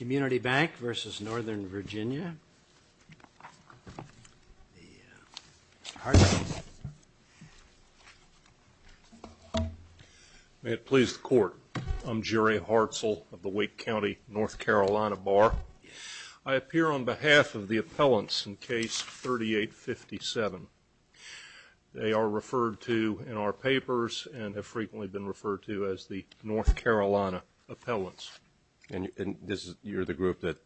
May it please the Court, I'm Jury Hartzell of the Wake County North Carolina Bar. I appear on behalf of the appellants in case 3857. They are referred to in our papers and have been referred to as North Carolina appellants. And you're the group that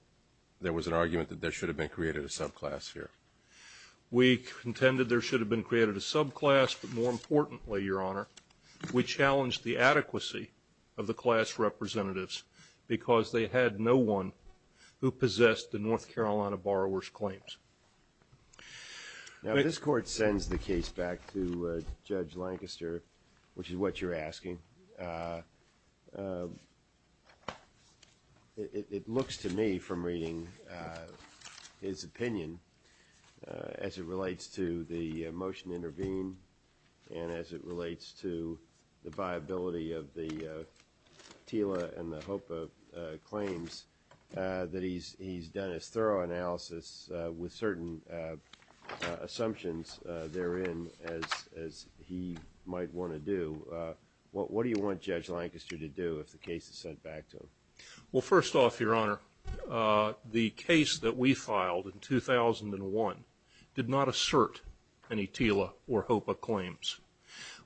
there was an argument that there should have been created a subclass here. We contended there should have been created a subclass, but more importantly, Your Honor, we challenged the adequacy of the class representatives because they had no one who possessed the North Carolina borrower's claims. Now this Court sends the case back to Judge Lancaster, which is what you're asking. It looks to me from reading his opinion as it relates to the motion to intervene and as it relates to the viability of the TILA and the HOPA claims that he's done his thorough you want Judge Lancaster to do if the case is sent back to him? Well, first off, Your Honor, the case that we filed in 2001 did not assert any TILA or HOPA claims.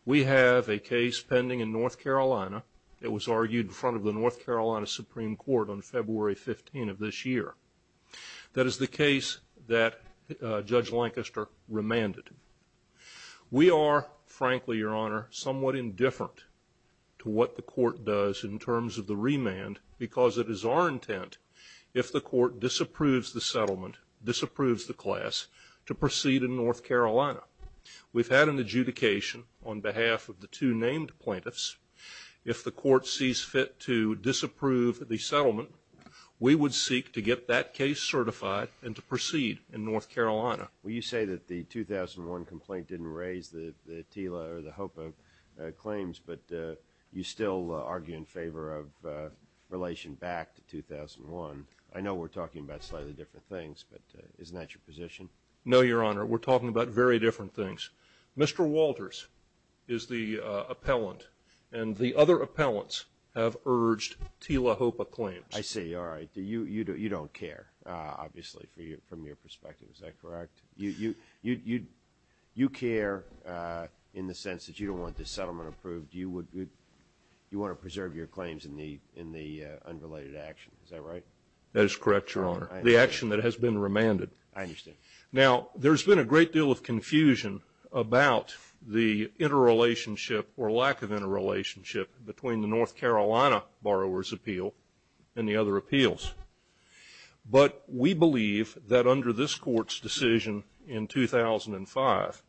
We have a case pending in North Carolina that was argued in front of the North Carolina Supreme Court on February 15 of this year. That is the case that Judge Lancaster remanded. We are, frankly, Your Honor, somewhat indifferent to what the Court does in terms of the remand because it is our intent, if the Court disapproves the settlement, disapproves the class, to proceed in North Carolina. We've had an adjudication on behalf of the two named plaintiffs. If the Court sees fit to disapprove the settlement, we would seek to get that case certified and to proceed in North Carolina. Well, you say that the claims, but you still argue in favor of relation back to 2001. I know we're talking about slightly different things, but isn't that your position? No, Your Honor. We're talking about very different things. Mr. Walters is the appellant and the other appellants have urged TILA-HOPA claims. I see. All right. You don't care, obviously, from your perspective. Is that correct? You care in the settlement approved. You want to preserve your claims in the unrelated action. Is that right? That is correct, Your Honor. The action that has been remanded. I understand. Now, there's been a great deal of confusion about the interrelationship or lack of interrelationship between the North Carolina borrower's appeal and the other appeals, but we believe that under this Court's decision in 2005,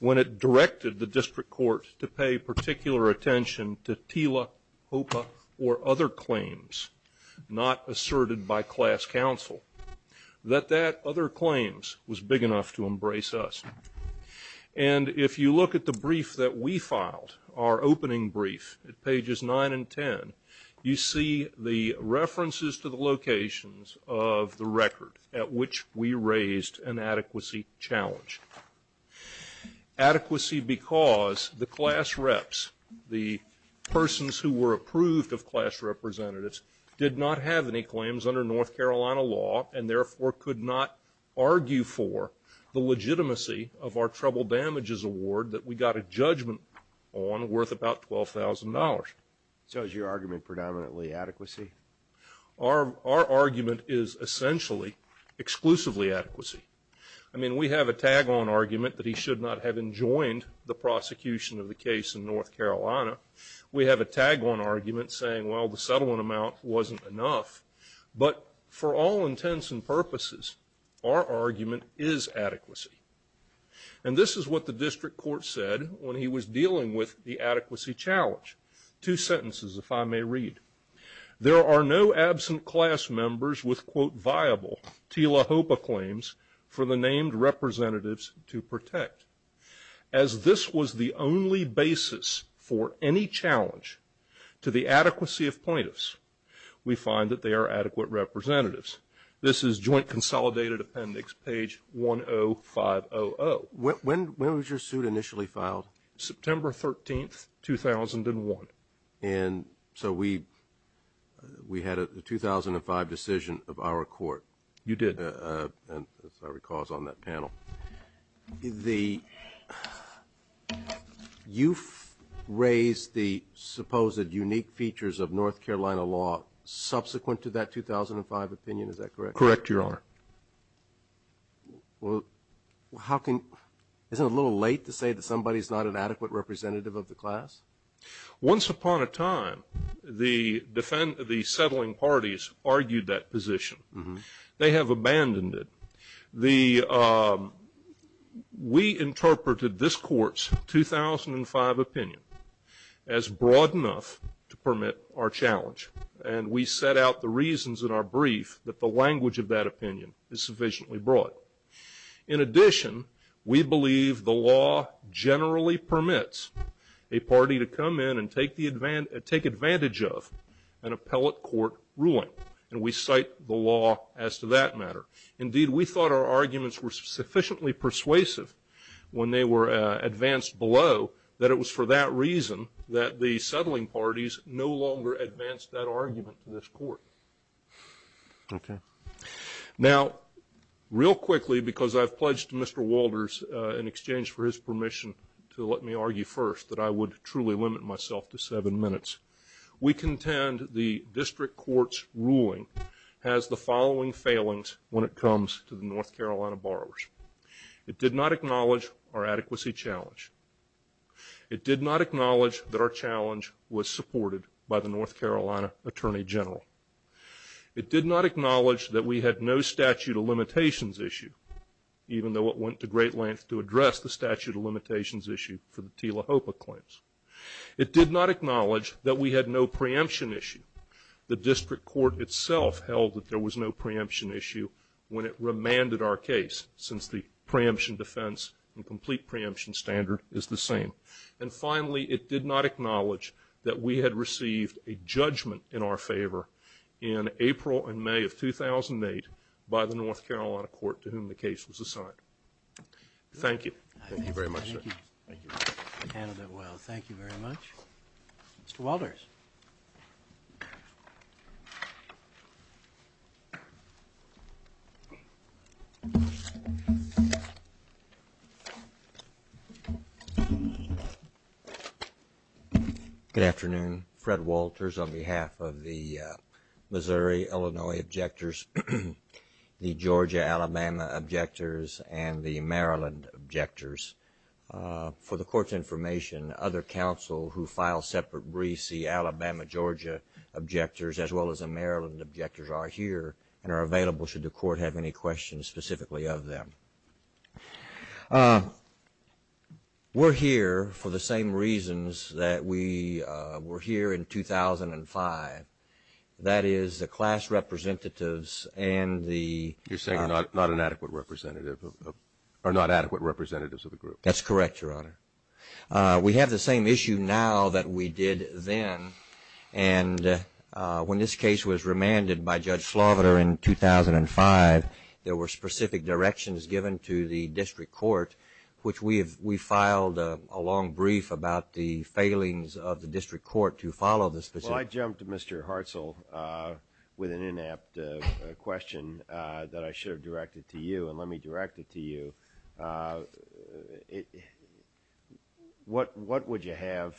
when it directed the District Court to pay particular attention to TILA-HOPA or other claims, not asserted by class counsel, that that other claims was big enough to embrace us. And if you look at the brief that we filed, our opening brief at pages 9 and 10, you see the references to the adequacy because the class reps, the persons who were approved of class representatives, did not have any claims under North Carolina law and therefore could not argue for the legitimacy of our trouble damages award that we got a judgment on worth about $12,000. So is your argument predominantly adequacy? Our argument is essentially exclusively adequacy. I mean, we have a tag-on argument that he should not have enjoined the prosecution of the case in North Carolina. We have a tag-on argument saying, well, the settlement amount wasn't enough. But for all intents and purposes, our argument is adequacy. And this is what the District Court said when he was dealing with the adequacy challenge. Two sentences, if I may read. There are no absent class members with, quote, viable TILA-HOPA claims for the named representatives to protect. As this was the only basis for any challenge to the adequacy of plaintiffs, we find that they are adequate representatives. This is Joint Consolidated Appendix, page 10500. When was your suit initially filed? September 13th, 2001. And so we had a 2005 decision of our court. You did. As I recall, it was on that panel. You've raised the supposed unique features of North Carolina law subsequent to that 2005 opinion. Is that correct? Correct, Your Honor. Well, how can... Isn't it a little late to say that somebody's not an adequate representative of the class? Once upon a time, the settling parties argued that position. They have abandoned it. We interpreted this court's 2005 opinion as broad enough to permit our challenge. And we set out the reasons in our brief that the language of that opinion is sufficiently broad. In addition, we believe the law generally permits a party to come in and take advantage of an appellate court ruling. And we cite the law as to that matter. Indeed, we thought our arguments were sufficiently persuasive when they were advanced below that it was for that reason that the settling parties no longer advanced that argument to this court. Okay. Now, real quickly, because I've pledged to Mr. Walters in exchange for his help me argue first that I would truly limit myself to seven minutes, we contend the district court's ruling has the following failings when it comes to the North Carolina borrowers. It did not acknowledge our adequacy challenge. It did not acknowledge that our challenge was supported by the North Carolina Attorney General. It did not acknowledge that we had no statute of limitations issue, even though it went to great lengths to address the statute of limitations issue for the Tila Hopa claims. It did not acknowledge that we had no preemption issue. The district court itself held that there was no preemption issue when it remanded our case, since the preemption defense and complete preemption standard is the same. And finally, it did not acknowledge that we had received a judgment in our favor in April and May of 2008 by the North Carolina court to whom the case was assigned. Thank you. Thank you very much, sir. Thank you. Candidate Weld, thank you very much. Mr. Walters. Good afternoon. Fred Walters on behalf of the Missouri, Illinois objectors, the Georgia, Alabama objectors, and the Maryland objectors. For the court's information, other counsel who file separate briefs, the Alabama, Georgia objectors, as well as the Maryland objectors are here and are available should the court have any questions specifically of them. We're here for the same reasons that we were here in 2005. That is the class representatives and the... You're saying not an adequate representative of... are not adequate representatives of the group. That's correct, your honor. We have the same issue now that we did then. And when this case was remanded by Judge Flaubert in 2005, there were specific directions given to the district court, which we have, we filed a long brief about the failings of the district court to follow this... Well, I jumped to Mr. Hartzell with an inept question that I should have directed to you, and let me direct it to you. What would you have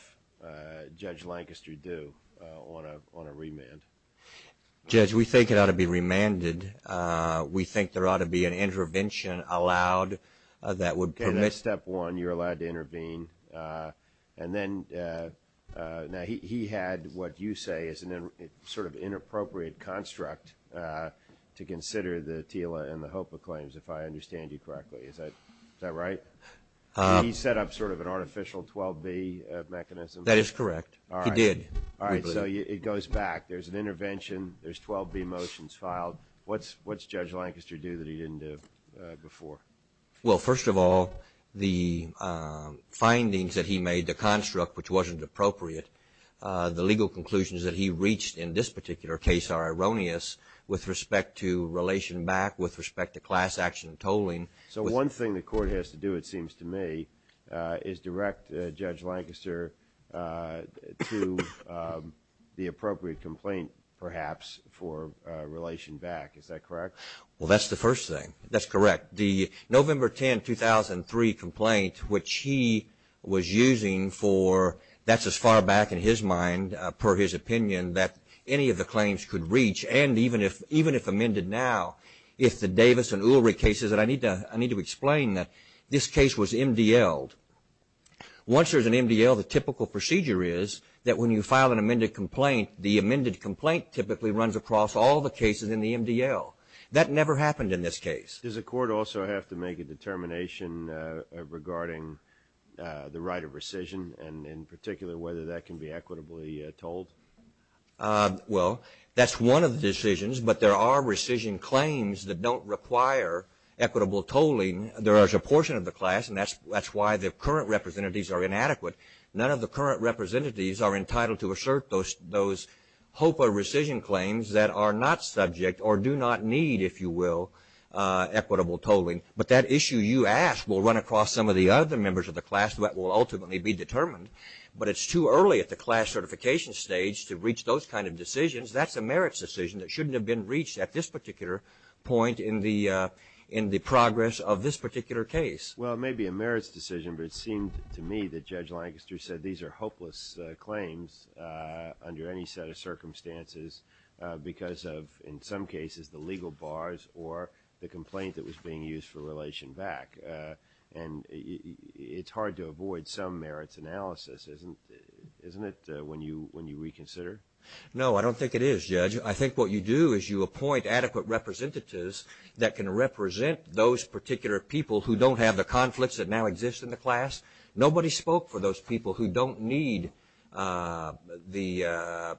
Judge Lancaster do on a remand? Judge, we think it ought to be remanded. We think there ought to be an intervention allowed that would permit... Okay, that's step one. You're allowed to intervene. And then... Now, he had what you say is an sort of inappropriate construct to consider the TILA and the HOPA claims, if I understand you correctly. Is that right? He set up sort of an artificial 12B mechanism. That is correct. He did. All right, so it goes back. There's an intervention. There's 12B motions filed. What's Judge Lancaster do that he didn't do before? Well, first of all, the findings that he made, the construct which wasn't appropriate, the legal conclusions that he reached in this particular case are erroneous with respect to relation back, with respect to class action and tolling. So one thing the court has to do, it seems to me, is direct Judge Lancaster to the appropriate complaint, perhaps, for relation back. Is that correct? Well, that's the first thing. That's correct. The November 10, 2003 complaint, which he was using for... That's as far back in his mind, per his opinion, that any of the claims could reach. And even if amended now, if the Davis and Ulrich cases... And I need to explain that this case was MDL'd. Once there's an MDL, the typical procedure is that when you file an amended complaint, the amended complaint typically runs across all the cases in the MDL. That never happened in this case. Does the court also have to make a determination regarding the right of rescission and, in particular, whether that can be equitably tolled? Well, that's one of the decisions, but there are rescission claims that don't require equitable tolling. There is a portion of the class, and that's why the current representatives are inadequate. None of the current representatives are entitled to assert those HOPA rescission claims that are not subject or do not need, if you will, equitable tolling. But that issue you ask will run across some of the other members of the class that will ultimately be determined. But it's too early at the class certification stage to reach those kinds of decisions. That's a merits decision that shouldn't have been reached at this particular point in the progress of this particular case. Well, it may be a merits decision, but it seemed to me that Judge Lancaster said these are hopeless claims under any set of circumstances because of, in some cases, the legal bars or the complaint that was being used for relation back. And it's hard to avoid some merits analysis, isn't it, when you reconsider? No, I don't think it is, Judge. I think what you do is you appoint adequate representatives that can represent those particular people who don't have the conflicts that now exist in the class. Nobody spoke for those people who don't need the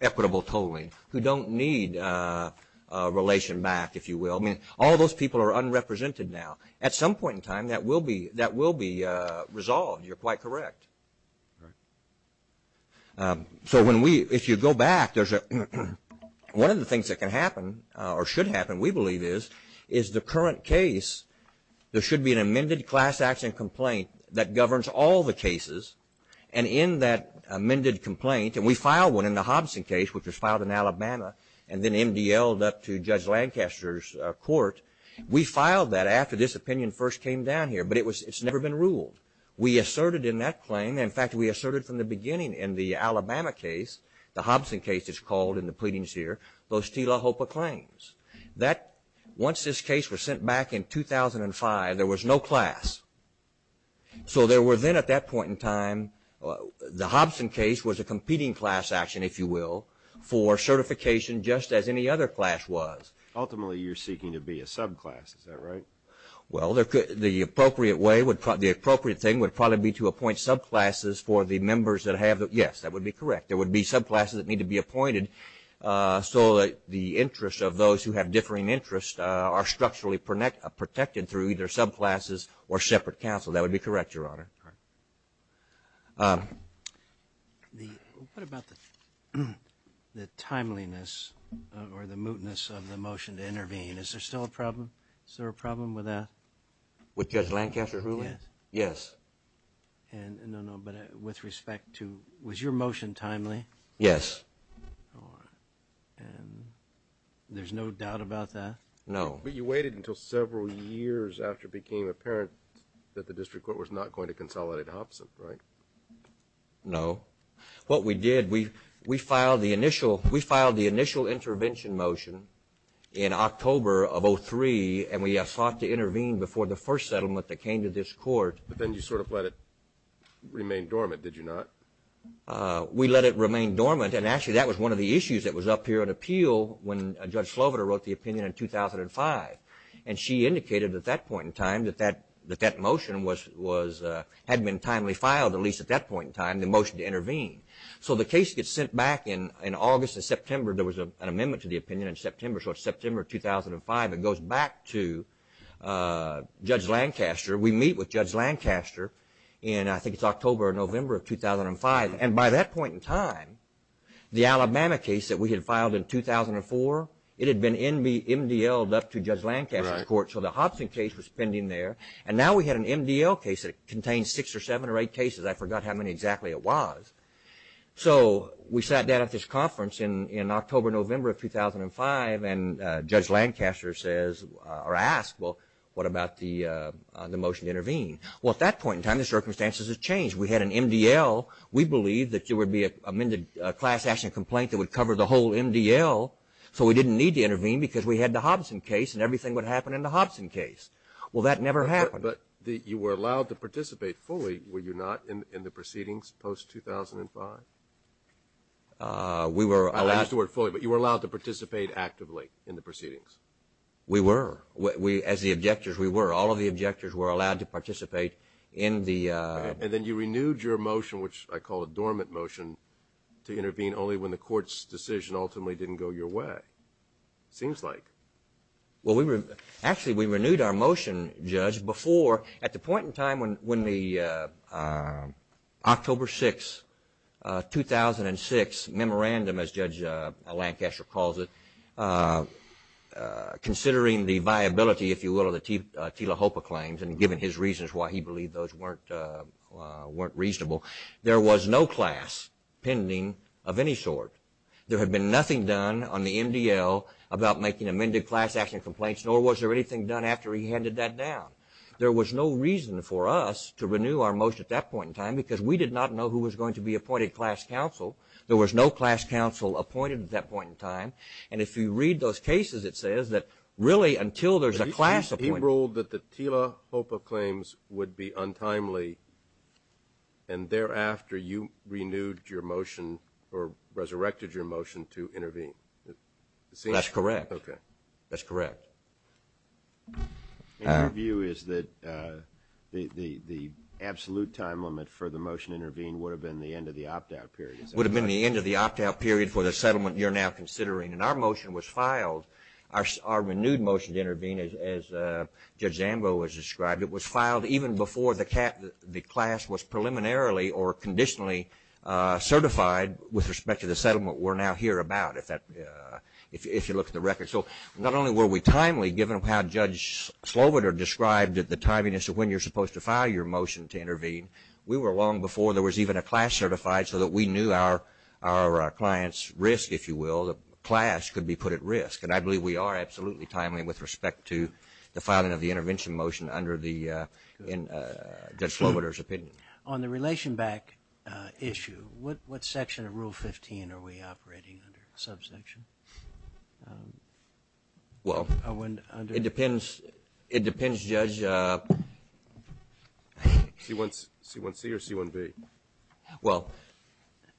equitable tolling, who don't need relation back, if you will. I mean, all those people are unrepresented now. At some point in time, that will be resolved. You're quite correct. So if you go back, one of the things that can happen or should happen, we believe, is the current case, there should be an amended class action complaint that governs all the cases. And in that amended complaint, and we filed one in the Hobson case, which was filed in Alabama, and then MDLed up to Judge Lancaster's court. We filed that after this opinion first came down here, but it's never been ruled. We asserted in that claim, in fact, we asserted from the beginning in the Alabama case, the Hobson case is called in the pleadings here, those T. LaHopa claims. That, once this case was sent back in 2005, there was no class. So there were then at that point in time, the Hobson case was a competing class action, if you will, for certification just as any other class was. Ultimately, you're seeking to be a subclass, is that right? Well, the appropriate thing would probably be to appoint subclasses for the members that have, yes, that would be correct. There would be subclasses that need to be appointed. So that the interests of those who have differing interests are structurally protected through either subclasses or separate counsel. That would be correct, Your Honor. The, what about the timeliness or the mootness of the motion to intervene? Is there still a problem? Is there a problem with that? With Judge Lancaster's ruling? Yes. And, no, no, but with respect to, was your motion timely? Yes. And there's no doubt about that? No. But you waited until several years after it became apparent that the district court was not going to consolidate Hobson, right? No. What we did, we filed the initial, we filed the initial intervention motion in October of 2003, and we sought to intervene before the first settlement that came to this court. But then you sort of let it remain dormant, did you not? No. We let it remain dormant, and actually that was one of the issues that was up here at appeal when Judge Slovita wrote the opinion in 2005. And she indicated at that point in time that that motion was, had been timely filed, at least at that point in time, the motion to intervene. So the case gets sent back in August and September. There was an amendment to the opinion in September, so it's September 2005. It goes back to Judge Lancaster. We meet with Judge Lancaster in, I think it's October or November of 2005. And by that point in time, the Alabama case that we had filed in 2004, it had been MDL'd up to Judge Lancaster's court, so the Hobson case was pending there. And now we had an MDL case that contained six or seven or eight cases. I forgot how many exactly it was. So we sat down at this conference in October, November of 2005, and Judge Lancaster says, or asked, well, what about the motion to intervene? Well, at that point in time, the circumstances had changed. We had an MDL. We believed that there would be a class action complaint that would cover the whole MDL, so we didn't need to intervene because we had the Hobson case, and everything would happen in the Hobson case. Well, that never happened. But you were allowed to participate fully, were you not, in the proceedings post-2005? We were allowed. I used the word fully, but you were allowed to participate actively in the proceedings. We were. As the objectors, we were. All of the objectors were allowed to participate in the... And then you renewed your motion, which I call a dormant motion, to intervene only when the court's decision ultimately didn't go your way, it seems like. Well, actually, we renewed our motion, Judge, before, at the point in time when the October 6, 2006 memorandum, as Judge Lancaster calls it, considering the viability, if you will, of the Tila Hopa claims, and given his reasons why he believed those weren't reasonable, there was no class pending of any sort. There had been nothing done on the MDL about making amended class action complaints, nor was there anything done after he handed that down. There was no reason for us to renew our motion at that point in time because we did not know who was going to be appointed class counsel. There was no class counsel appointed at that point in time. And if you read those cases, it says that, really, until there's a class appointed... He ruled that the Tila Hopa claims would be untimely, and thereafter, you renewed your motion or resurrected your motion to intervene. That's correct. Okay. That's correct. My view is that the absolute time limit for the motion to intervene would have been the end of the opt-out period. It would have been the end of the opt-out period for the settlement you're now considering. And our motion was filed, our renewed motion to intervene, as Judge Zambo has described, it was filed even before the class was preliminarily or conditionally certified with respect to the settlement we're now here about, if you look at the record. So not only were we timely, given how Judge Sloviter described it, the timeliness of when you're supposed to file your motion to intervene, we were long before there was even a class certified so that we knew our client's risk, if you will, the class could be put at risk. And I believe we are absolutely timely with respect to the filing of the intervention motion under Judge Sloviter's opinion. On the relation back issue, what section of Rule 15 are we operating under? Subsection? Well, it depends, Judge... C1C or C1V? Well,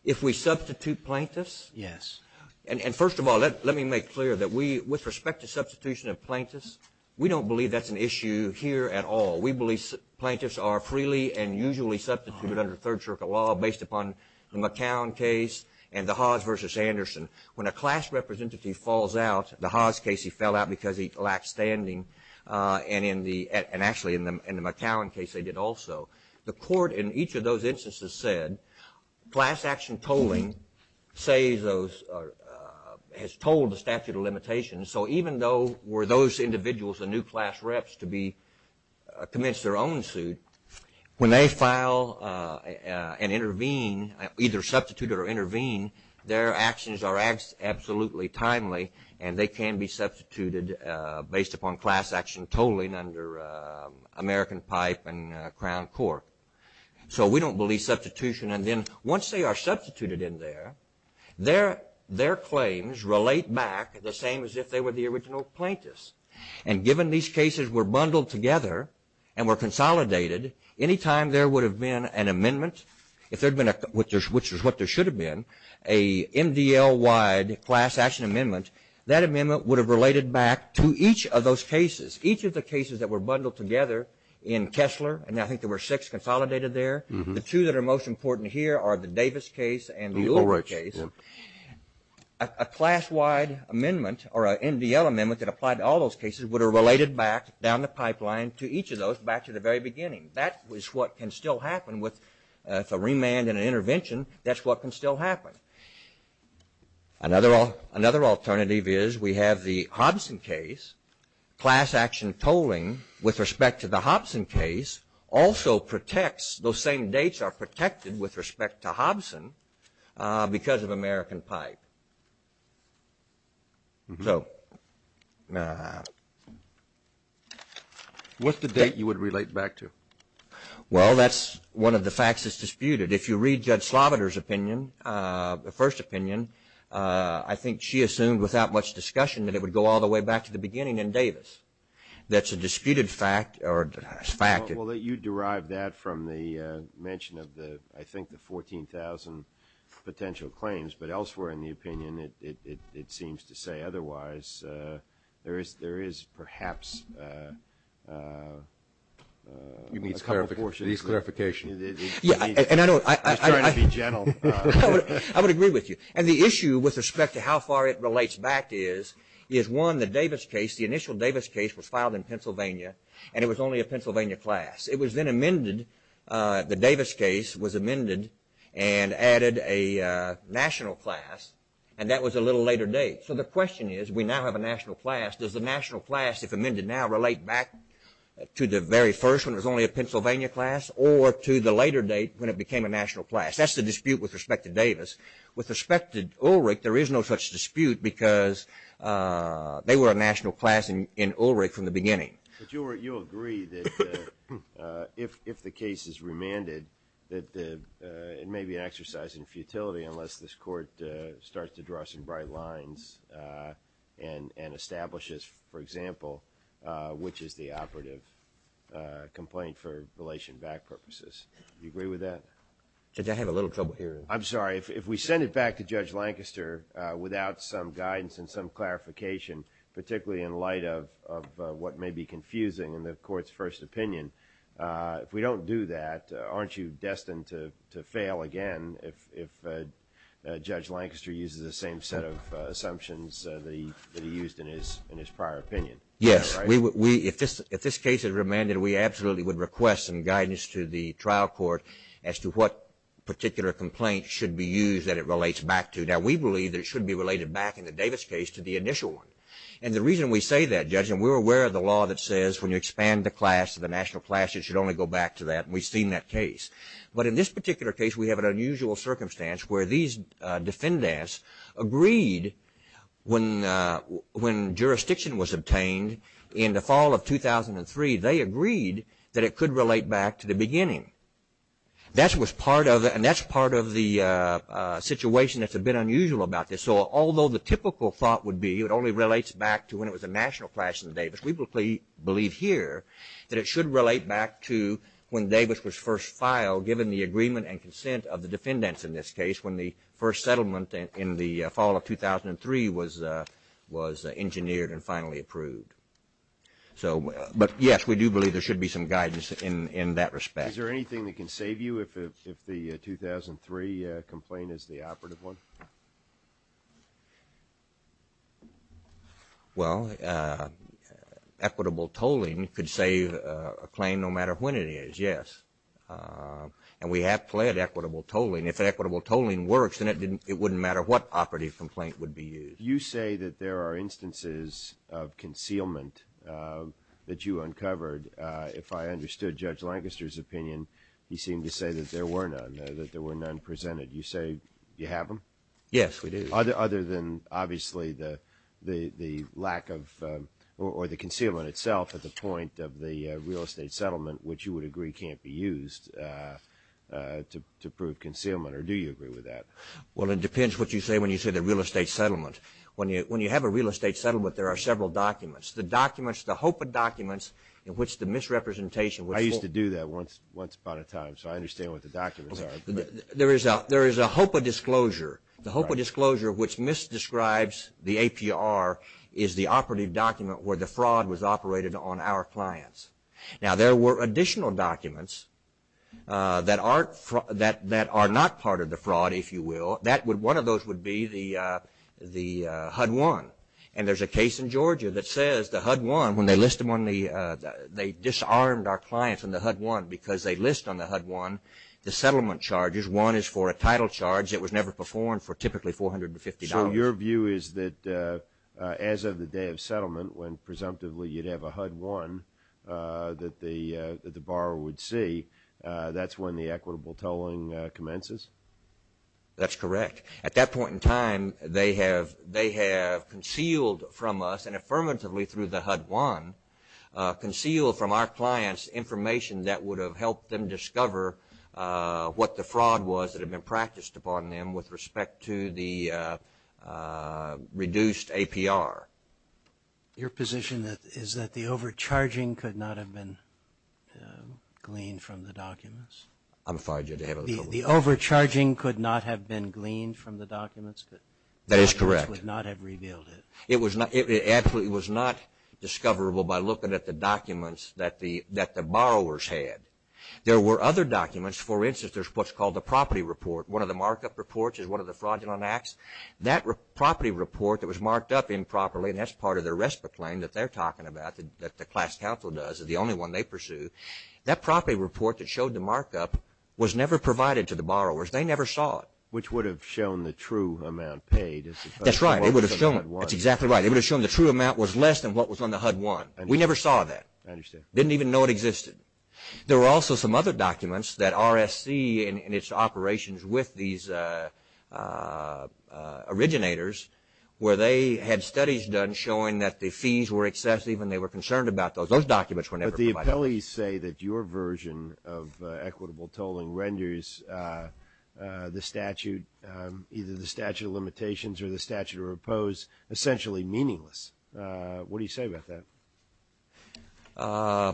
if we substitute plaintiffs... Yes. And first of all, let me make clear that we, with respect to substitution of plaintiffs, we don't believe that's an issue here at all. We believe plaintiffs are freely and usually substituted under third circuit law based upon the McCown case and the Haas versus Anderson. When a class representative falls out, the Haas case he fell out because he lacked standing and actually in the McCown case they did also. The court in each of those instances said, class action tolling has told the statute of limitations. So even though were those individuals the new class reps to commence their own suit, when they file and intervene, either substitute or intervene, their actions are absolutely timely and they can be substituted based upon class action tolling under American Pipe and Crown Court. So we don't believe substitution. And then once they are substituted in there, their claims relate back the same as if they were the original plaintiffs. And given these cases were bundled together and were consolidated, anytime there would have been an amendment, which is what there should have been, a MDL-wide class action amendment, that amendment would have related back to each of those cases. Each of the cases that were bundled together in Kessler, and I think there were six consolidated there, the two that are most important here are the Davis case and the Ulrich case. A class-wide amendment or an MDL amendment that applied to all those cases would have related back down the pipeline to each of those back to the very beginning. That is what can still happen with a remand and an intervention. That's what can still happen. Another alternative is we have the Hobson case, class action tolling with respect to the Hobson case also protects, those same dates are protected with respect to Hobson because of American pipe. What's the date you would relate back to? Well, that's one of the facts that's disputed. If you read Judge Sloviter's opinion, the first opinion, I think she assumed without much discussion that it would go all the way back to the beginning in Davis. That's a disputed fact or fact. Well, you derived that from the mention of the, I think the 14,000 potential claims, but elsewhere in the opinion, it seems to say otherwise. There is perhaps a couple of portions. Needs clarification. Yeah, and I know. He's trying to be gentle. I would agree with you. And the issue with respect to how far it relates back is, is one, the Davis case, the initial Davis case was filed in Pennsylvania and it was only a Pennsylvania class. It was then amended. The Davis case was amended and added a national class and that was a little later date. So the question is, we now have a national class. Does the national class, if amended now, relate back to the very first when it was only a Pennsylvania class or to the later date when it became a national class? That's the dispute with respect to Davis. With respect to Ulrich, there is no such dispute because they were a national class in Ulrich from the beginning. But you agree that if the case is remanded, that it may be an exercise in futility unless this court starts to draw some bright lines and establishes, for example, which is the operative complaint for relation back purposes. Do you agree with that? Judge, I have a little trouble hearing. I'm sorry. If we send it back to Judge Lancaster without some guidance and some clarification, particularly in light of what may be confusing in the court's first opinion, if we don't do that, aren't you destined to fail again if Judge Lancaster uses the same set of assumptions that he used in his prior opinion? Yes. If this case is remanded, we absolutely would request some guidance to the trial court as to what particular complaint should be used that it relates back to. Now, we believe that it should be related back in the Davis case to the initial one. And the reason we say that, Judge, and we're aware of the law that says when you expand the class to the national class, it should only go back to that. And we've seen that case. But in this particular case, we have an unusual circumstance where these defendants agreed when jurisdiction was obtained in the fall of 2003, they agreed that it could relate back to the beginning. That was part of it. And that's part of the situation that's a bit unusual about this. So although the typical thought would be it only relates back to when it was a national class in Davis, we believe here that it should relate back to when Davis was first filed, given the agreement and consent of the defendants in this case when the first settlement in the fall of 2003 was engineered and finally approved. But yes, we do believe there should be some guidance in that respect. Is there anything that can save you if the 2003 complaint is the operative one? Well, equitable tolling could save a claim no matter when it is, yes. And we have pled equitable tolling. If equitable tolling works, then it wouldn't matter what operative complaint would be used. You say that there are instances of concealment that you uncovered. If I understood Judge Lancaster's opinion, he seemed to say that there were none, that there were none presented. You say you have them? Yes, we do. Other than obviously the lack of or the concealment itself at the point of the real estate settlement, which you would agree can't be used to prove concealment, or do you agree with that? Well, it depends what you say when you say the real estate settlement. When you have a real estate settlement, there are several documents. The documents, the hope of documents in which the misrepresentation was... I used to do that once upon a time, so I understand what the documents are. There is a hope of disclosure. The hope of disclosure which misdescribes the APR is the operative document where the fraud was operated on our clients. Now, there were additional documents that are not part of the fraud, if you will. One of those would be the HUD-1. And there's a case in Georgia that says the HUD-1, when they list them on the... They disarmed our clients on the HUD-1 because they list on the HUD-1 the settlement charges. One is for a title charge that was never performed for typically $450. So your view is that as of the day of settlement, when presumptively you'd have a HUD-1 that the borrower would see, that's when the equitable tolling commences? That's correct. At that point in time, they have concealed from us, and affirmatively through the HUD-1, concealed from our clients information that would have helped them discover what the fraud was that had been practiced upon them with respect to the reduced APR. Your position is that the overcharging could not have been gleaned from the documents? I'm sorry, did I have a... The overcharging could not have been gleaned from the documents? That is correct. The documents would not have revealed it. It was not... It absolutely was not discoverable by looking at the documents that the borrowers had. There were other documents, for instance, there's what's called the property report. One of the markup reports is one of the fraudulent acts. That property report that was marked up improperly, and that's part of their RESPA claim that they're talking about that the class counsel does, is the only one they pursue. That property report that showed the markup was never provided to the borrowers. They never saw it. Which would have shown the true amount paid. That's right. It would have shown... That's exactly right. It would have shown the true amount was less than what was on the HUD-1. We never saw that. I understand. Didn't even know it existed. There were also some other documents that RSC in its operations with these originators, where they had studies done showing that the fees were excessive and they were concerned about those. Those documents were never provided. But the appellees say that your version of equitable tolling renders the statute, either the statute of limitations or the statute of repose essentially meaningless. What do you say about that? Uh,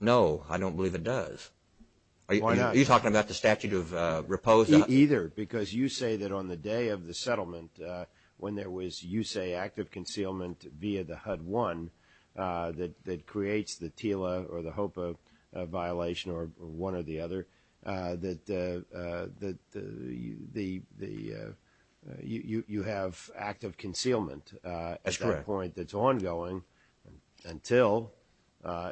no. I don't believe it does. Why not? Are you talking about the statute of repose? Either. Because you say that on the day of the settlement, when there was, you say, active concealment via the HUD-1 that creates the TILA or the HOPA violation or one or the other, that you have active concealment at that point that's ongoing. Until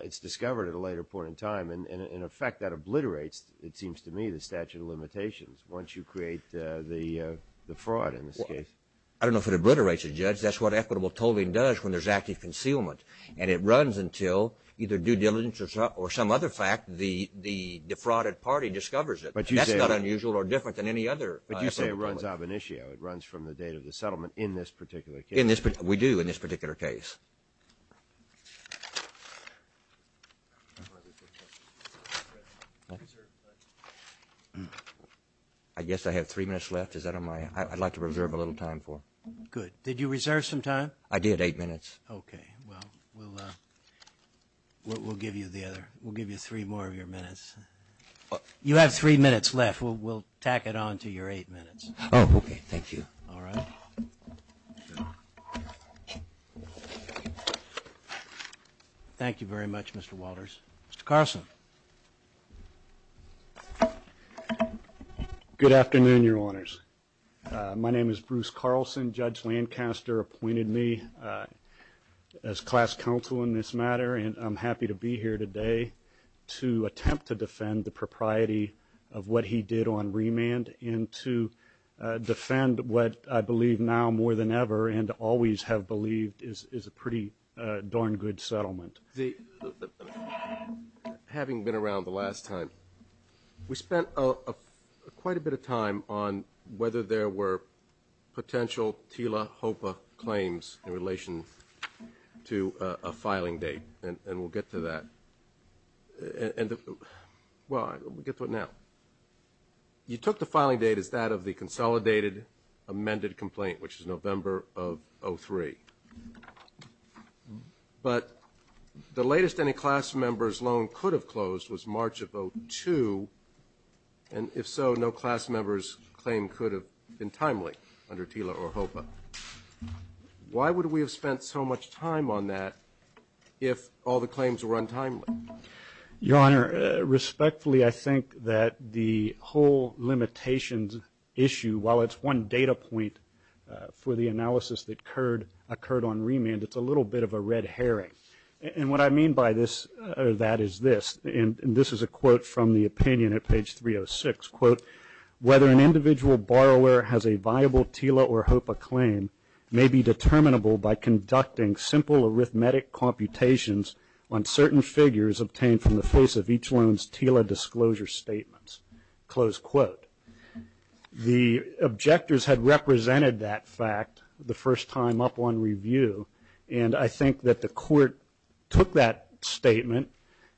it's discovered at a later point in time. And in effect, that obliterates, it seems to me, the statute of limitations once you create the fraud in this case. I don't know if it obliterates it, Judge. That's what equitable tolling does when there's active concealment. And it runs until either due diligence or some other fact, the defrauded party discovers it. But that's not unusual or different than any other. But you say it runs ab initio. It runs from the date of the settlement in this particular case. We do in this particular case. I guess I have three minutes left. Is that on my end? I'd like to reserve a little time for. Good. Did you reserve some time? I did. Eight minutes. Okay. Well, we'll give you the other. We'll give you three more of your minutes. You have three minutes left. We'll tack it on to your eight minutes. Oh, okay. Thank you. All right. Thank you very much, Mr. Walters. Mr. Carlson. Good afternoon, your honors. My name is Bruce Carlson. Judge Lancaster appointed me as class counsel in this matter. And I'm happy to be here today to attempt to defend the propriety of what he did on remand and to defend what I believe now more than ever and always have believed is a pretty darn good settlement. Having been around the last time, we spent quite a bit of time on whether there were potential TILA, HOPA claims in relation to a filing date, and we'll get to that. Well, we'll get to it now. You took the filing date as that of the consolidated amended complaint, which is November of 03. But the latest any class member's loan could have closed was March of 02. And if so, no class member's claim could have been timely under TILA or HOPA. Why would we have spent so much time on that if all the claims were untimely? Your honor, respectfully, I think that the whole limitations issue, while it's one data point for the analysis that occurred on remand, it's a little bit of a red herring. And what I mean by that is this, and this is a quote from the opinion at page 306, quote, whether an individual borrower has a viable TILA or HOPA claim may be determinable by conducting simple arithmetic computations on certain figures obtained from the face of each loan's TILA disclosure statements, close quote. The objectors had represented that fact the first time up on review. And I think that the court took that statement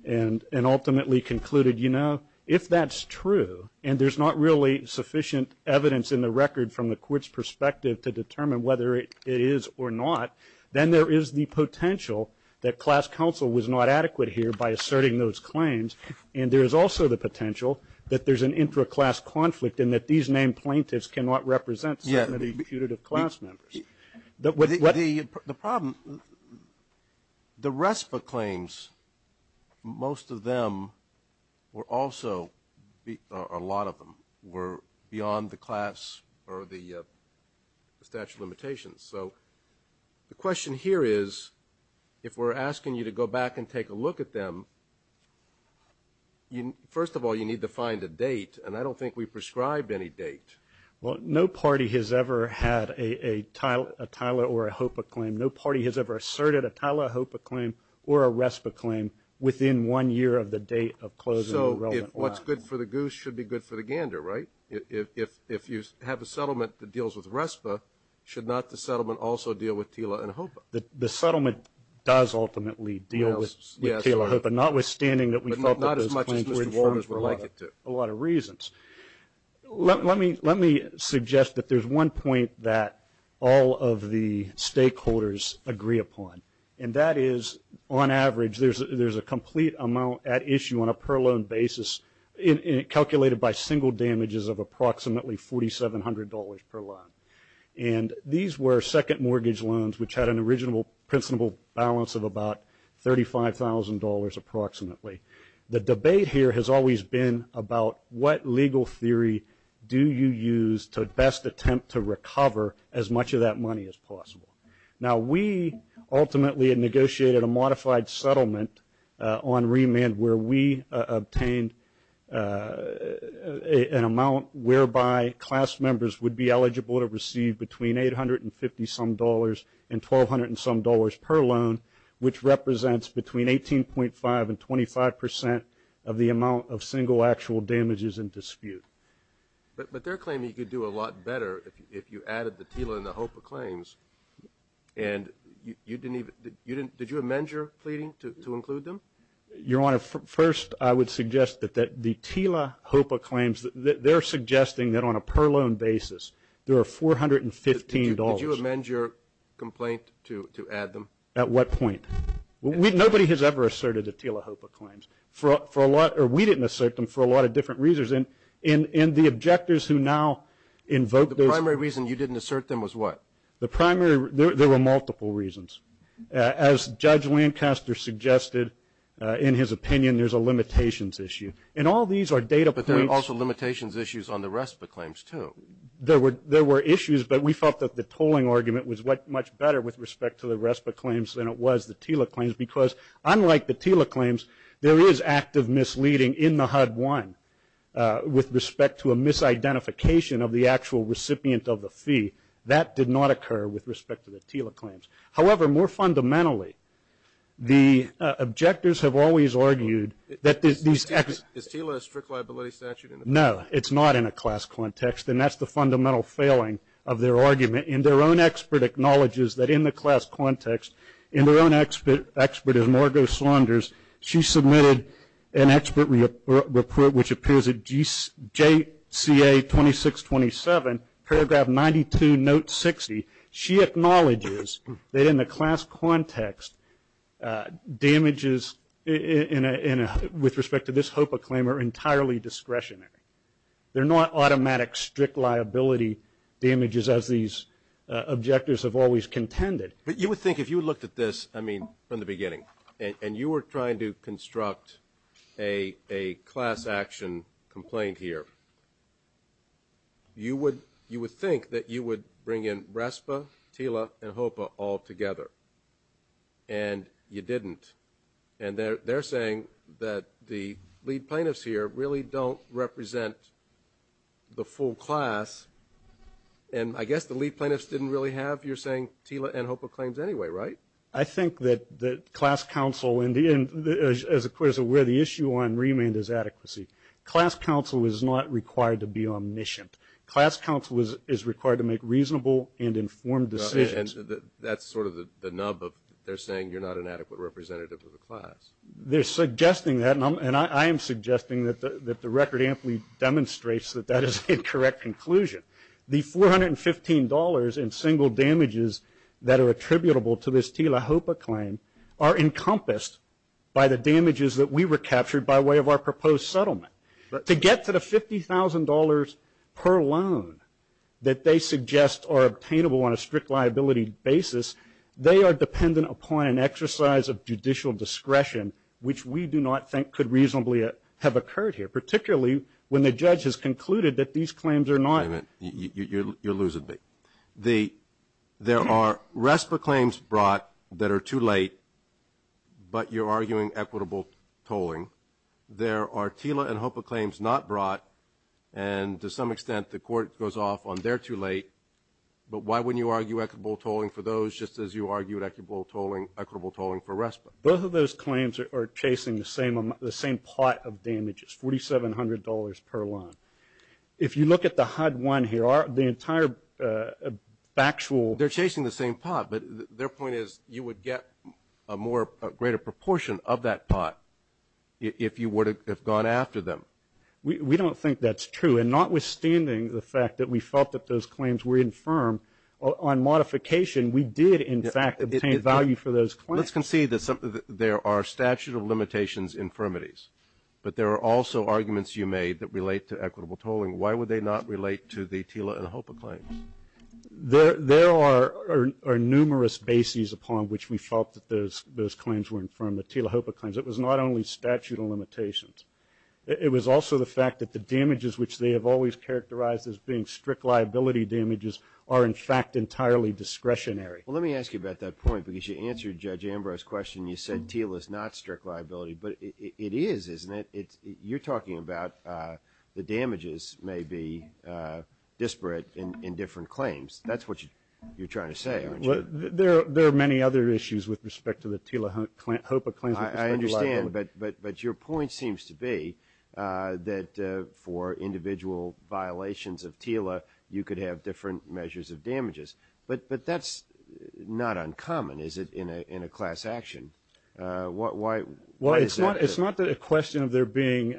and ultimately concluded, you know, if that's true and there's not really sufficient evidence in the record from the court's perspective to determine whether it is or not, then there is the potential that class counsel was not adequate here by asserting those claims. And there is also the potential that there's an intra-class conflict and that these named plaintiffs cannot represent any putative class members. The problem, the RESPA claims, most of them were also, a lot of them were beyond the class or the statute of limitations. So the question here is, if we're asking you to go back and take a look at them, first of all, you need to find a date. And I don't think we prescribed any date. Well, no party has ever had a TILA or a HOPA claim. No party has ever asserted a TILA, a HOPA claim or a RESPA claim within one year of the date of closing. So what's good for the goose should be good for the gander, right? If you have a settlement that deals with RESPA, should not the settlement also deal with TILA and HOPA? The settlement does ultimately deal with TILA and HOPA, notwithstanding that we felt that those claims were informed for a lot of reasons. Let me suggest that there's one point that all of the stakeholders agree upon. And that is, on average, there's a complete amount at issue on a per loan basis calculated by single damages of approximately $4,700 per loan. And these were second mortgage loans which had an original principal balance of about $35,000 approximately. The debate here has always been about what legal theory do you use to best attempt to recover as much of that money as possible. Now, we ultimately negotiated a modified settlement on remand where we obtained an amount whereby class members would be eligible to receive between $850 some dollars and $1,200 some dollars per loan, which represents between 18.5% and 25% of the amount of single actual damages in dispute. But they're claiming you could do a lot better if you added the TILA and the HOPA claims. And you didn't even, did you amend your pleading to include them? Your Honor, first, I would suggest that the TILA, HOPA claims, they're suggesting that on a per loan basis, there are $415. Did you amend your complaint to add them? At what point? Nobody has ever asserted the TILA, HOPA claims. For a lot, or we didn't assert them for a lot of different reasons. And in the objectors who now invoke those- The primary reason you didn't assert them was what? The primary, there were multiple reasons. As Judge Lancaster suggested in his opinion, there's a limitations issue. And all these are data points- But there are also limitations issues on the RESPA claims too. There were issues, but we felt that the tolling argument was much better with respect to the RESPA claims than it was the TILA claims because unlike the TILA claims, there is active misleading in the HUD-1 with respect to a misidentification of the actual recipient of the fee. That did not occur with respect to the TILA claims. However, more fundamentally, the objectors have always argued that these- Is TILA a strict liability statute? No, it's not in a class context. And that's the fundamental failing of their argument. And their own expert acknowledges that in the class context, and their own expert is Margo Saunders, she submitted an expert report which appears at JCA 2627, paragraph 92, note 60. She acknowledges that in the class context, damages with respect to this HOPA claim are entirely discretionary. They're not automatic strict liability damages as these objectors have always contended. But you would think if you looked at this, I mean, from the beginning, and you were trying to construct a class action complaint here, you would think that you would bring in RESPA, TILA, and HOPA all together. And you didn't. And they're saying that the lead plaintiffs here really don't represent the full class. And I guess the lead plaintiffs didn't really have, you're saying, TILA and HOPA claims anyway, right? I think that the class counsel, and as the court is aware, the issue on remand is adequacy. Class counsel is not required to be omniscient. Class counsel is required to make reasonable and informed decisions. And that's sort of the nub of they're saying you're not an adequate representative of the class. They're suggesting that, and I am suggesting that the record amply demonstrates that that is an incorrect conclusion. The $415 in single damages that are attributable to this TILA-HOPA claim are encompassed by the damages that we recaptured by way of our proposed settlement. To get to the $50,000 per loan that they suggest are obtainable on a strict liability basis, they are dependent upon an exercise of judicial discretion, which we do not think could reasonably have occurred here, particularly when the judge has concluded that these claims are not- Wait a minute. You're losing me. The- There are RESPA claims brought that are too late, but you're arguing equitable tolling. There are TILA and HOPA claims not brought, and to some extent, the court goes off on they're too late. But why wouldn't you argue equitable tolling for those just as you argued equitable tolling, equitable tolling for RESPA? Both of those claims are chasing the same plot of damages, $4,700 per loan. If you look at the HUD-1 here, the entire factual- They're chasing the same pot, but their point is you would get a more greater proportion of that pot if you would have gone after them. We don't think that's true, and notwithstanding the fact that we felt that those claims were infirm on modification, we did in fact obtain value for those claims. Let's concede that there are statute of limitations infirmities, but there are also arguments you made that relate to equitable tolling. Why would they not relate to the TILA and HOPA claims? There are numerous bases upon which we felt that those claims were infirm, the TILA-HOPA claims. It was not only statute of limitations. It was also the fact that the damages which they have always characterized as being strict liability damages are in fact entirely discretionary. Well, let me ask you about that point because you answered Judge Ambrose's question. You said TILA is not strict liability, but it is, isn't it? You're talking about the damages, maybe disparate in different claims. That's what you're trying to say, aren't you? There are many other issues with respect to the TILA-HOPA claims. I understand, but your point seems to be that for individual violations of TILA, you could have different measures of damages, but that's not uncommon, is it, in a class action. Why is that? It's not a question of there being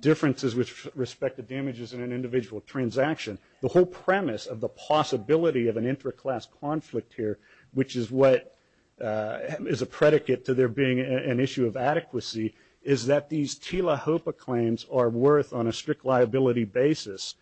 differences with respect to damages in an individual transaction. The whole premise of the possibility of an intra-class conflict here, which is what is a predicate to there being an issue of adequacy, is that these TILA-HOPA claims are worth on a strict liability basis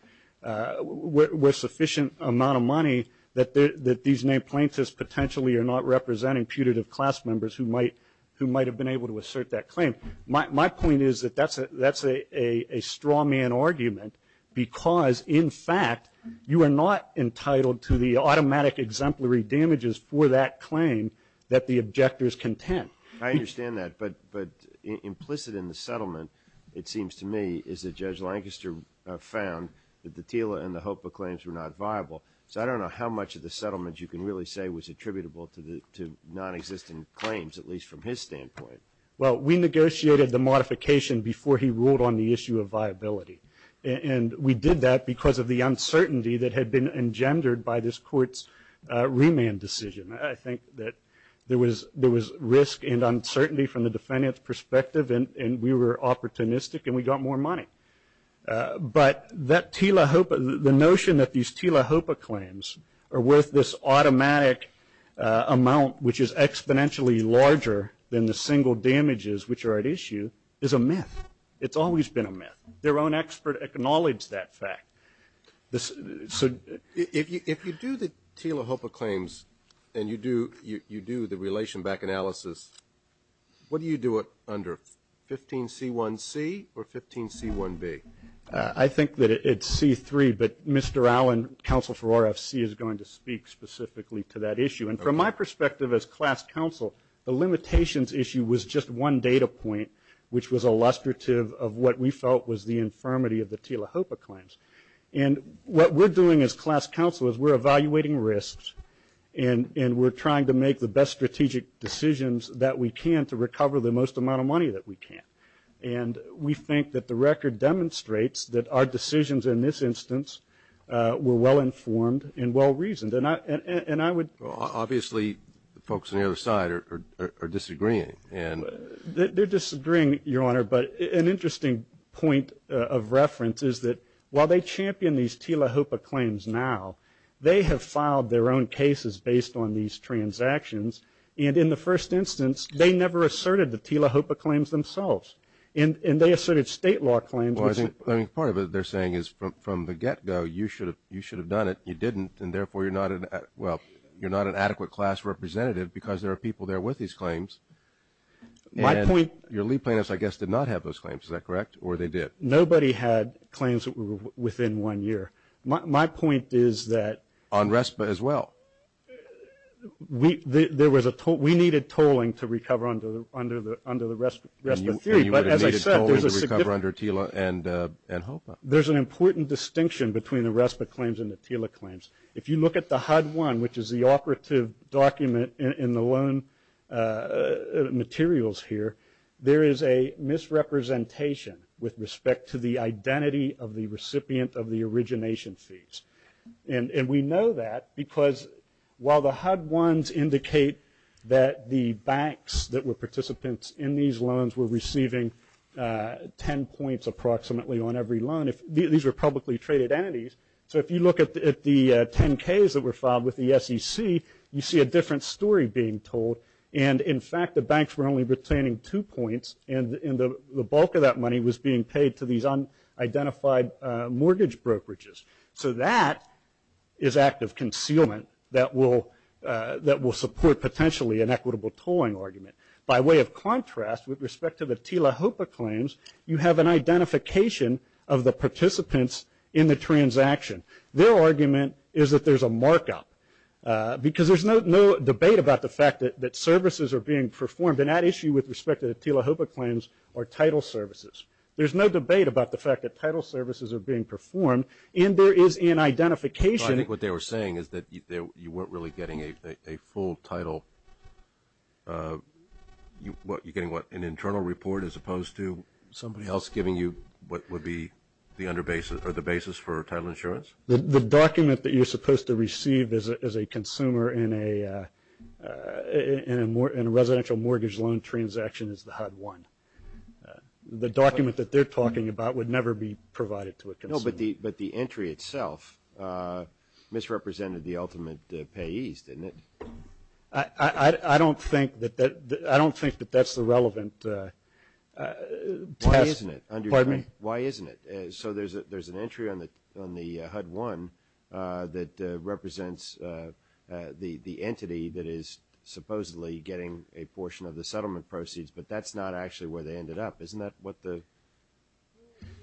with sufficient amount of money that these named plaintiffs potentially are not representing putative class members who might have been able to assert that claim. My point is that that's a strawman argument because, in fact, you are not entitled to the automatic exemplary damages for that claim that the objectors contend. I understand that, but implicit in the settlement, it seems to me, is that Judge Lancaster found that the TILA and the HOPA claims were not viable. So I don't know how much of the settlement you can really say was attributable to non-existent claims, at least from his standpoint. Well, we negotiated the modification before he ruled on the issue of viability, and we did that because of the uncertainty that had been engendered by this Court's remand decision. I think that there was risk and uncertainty from the defendant's perspective, and we were opportunistic, and we got more money. But that TILA-HOPA, the notion that these TILA-HOPA claims are worth this automatic amount which is exponentially larger than the single damages which are at issue, is a myth. It's always been a myth. Their own expert acknowledged that fact. So if you do the TILA-HOPA claims and you do the relation back analysis, what do you do it under? 15C1C or 15C1B? I think that it's C3, but Mr. Allen, counsel for RFC, is going to speak specifically to that issue. And from my perspective as class counsel, the limitations issue was just one data point which was illustrative of what we felt was the infirmity of the TILA-HOPA claims. And what we're doing as class counsel is we're evaluating risks and we're trying to make the best strategic decisions that we can to recover the most amount of money that we can. And we think that the record demonstrates that our decisions in this instance were well-informed and well-reasoned. And I would... Obviously, the folks on the other side are disagreeing. And... They're disagreeing, Your Honor. But an interesting point of reference is that while they champion these TILA-HOPA claims now, they have filed their own cases based on these transactions. And in the first instance, they never asserted the TILA-HOPA claims themselves. And they asserted state law claims. Well, I think part of it they're saying is from the get-go, you should have done it, you didn't. And therefore, you're not an... Well, you're not an adequate class representative because there are people there with these claims. And your lead plaintiffs, I guess, did not have those claims. Is that correct? Or they did? Nobody had claims that were within one year. My point is that... On RESPA as well. There was a toll... We needed tolling to recover under the RESPA 3. But as I said, there's a significant... And you would have needed tolling to recover under TILA and HOPA. There's an important distinction between the RESPA claims and the TILA claims. If you look at the HUD-1, which is the operative document in the loan materials here, there is a misrepresentation with respect to the identity of the recipient of the origination fees. And we know that because while the HUD-1s indicate that the banks that were participants in these loans were receiving 10 points, approximately, on every loan. These were publicly traded entities. So if you look at the 10Ks that were filed with the SEC, you see a different story being told. And in fact, the banks were only retaining two points and the bulk of that money was being paid to these unidentified mortgage brokerages. So that is active concealment that will support, potentially, an equitable tolling argument. By way of contrast, with respect to the TILA-HOPA claims, you have an identification of the participants in the transaction. Their argument is that there's a markup because there's no debate about the fact that services are being performed. And that issue with respect to the TILA-HOPA claims are title services. There's no debate about the fact that title services are being performed and there is an identification. I think what they were saying is that you weren't really getting a full title. You're getting an internal report as opposed to somebody else giving you what would be the basis for title insurance? The document that you're supposed to receive as a consumer in a residential mortgage loan transaction is the HUD-1. The document that they're talking about would never be provided to a consumer. No, but the entry itself misrepresented the ultimate payees, didn't it? I don't think that that's the relevant test. Why isn't it? Why isn't it? So there's an entry on the HUD-1 that represents the entity that is supposedly getting a portion of the settlement proceeds, but that's not actually where they ended up. Isn't that what the...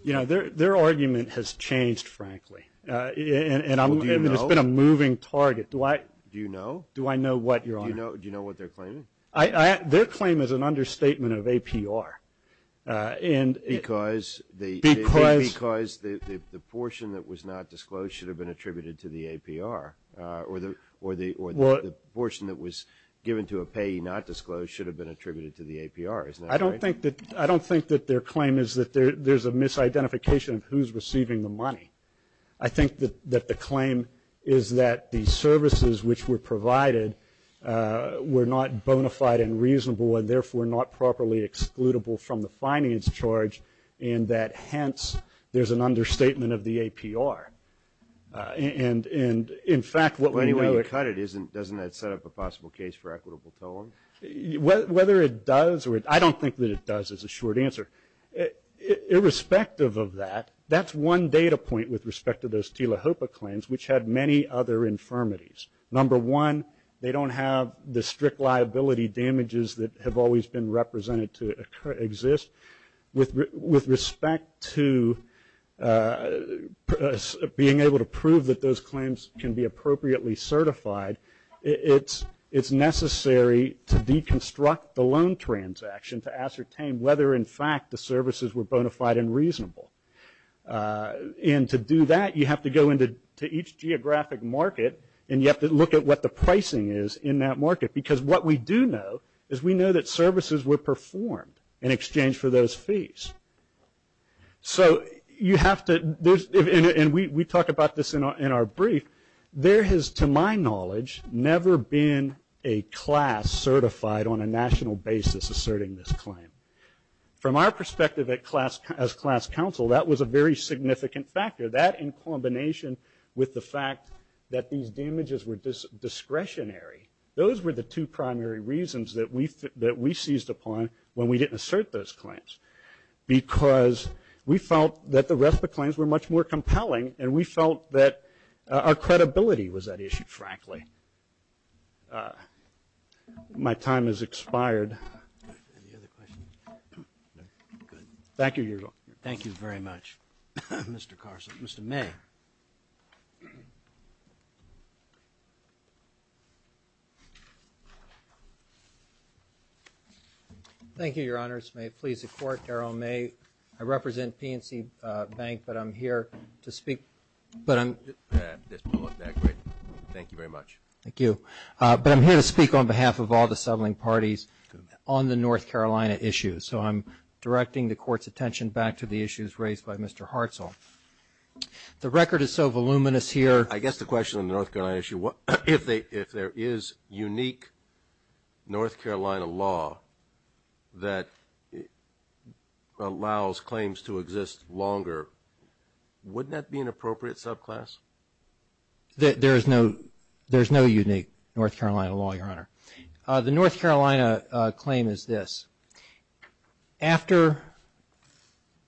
You know, their argument has changed, frankly. And it's been a moving target. Do I... Do you know? Do I know what, Your Honor? Do you know what they're claiming? Their claim is an understatement of APR. And... Because the... Because the portion that was not disclosed should have been attributed to the APR. Or the portion that was given to a payee not disclosed should have been attributed to the APR. Isn't that right? I don't think that their claim is that there's a misidentification of who's receiving the money. I think that the claim is that the services which were provided were not bona fide and reasonable and therefore not properly excludable from the finance charge and that, hence, there's an understatement of the APR. And, in fact, what we know... Anyway you cut it, doesn't that set up a possible case for equitable tolling? Whether it does or it... I don't think that it does is a short answer. Irrespective of that, that's one data point with respect to those TILA HOPA claims which had many other infirmities. Number one, they don't have the strict liability damages that have always been represented to exist. With respect to being able to prove that those claims can be appropriately certified, it's necessary to deconstruct the loan transaction to ascertain whether, in fact, the services were bona fide and reasonable. And to do that, you have to go into each geographic market and you have to look at what the pricing is in that market because what we do know is we know that services were performed in exchange for those fees. We talk about this in our brief. There has, to my knowledge, never been a class certified on a national basis asserting this claim. From our perspective as class counsel, that was a very significant factor. That in combination with the fact that these damages were discretionary, those were the two primary reasons that we seized upon when we didn't assert those claims because we felt that the rest of the claims were much more compelling and we felt that our credibility was at issue, frankly. My time has expired. Thank you, Your Honor. Thank you very much, Mr. Carson. Mr. Mayor. Thank you, Your Honors. May it please the Court, Daryl May. I represent PNC Bank, but I'm here to speak. Thank you very much. Thank you. But I'm here to speak on behalf of all the settling parties on the North Carolina issue. So I'm directing the Court's attention back to the issues raised by Mr. Hartzell. The record is so voluminous here. I guess the question on the North Carolina issue, if there is unique North Carolina law that allows claims to exist longer, wouldn't that be an appropriate subclass? There is no unique North Carolina law, Your Honor. The North Carolina claim is this. After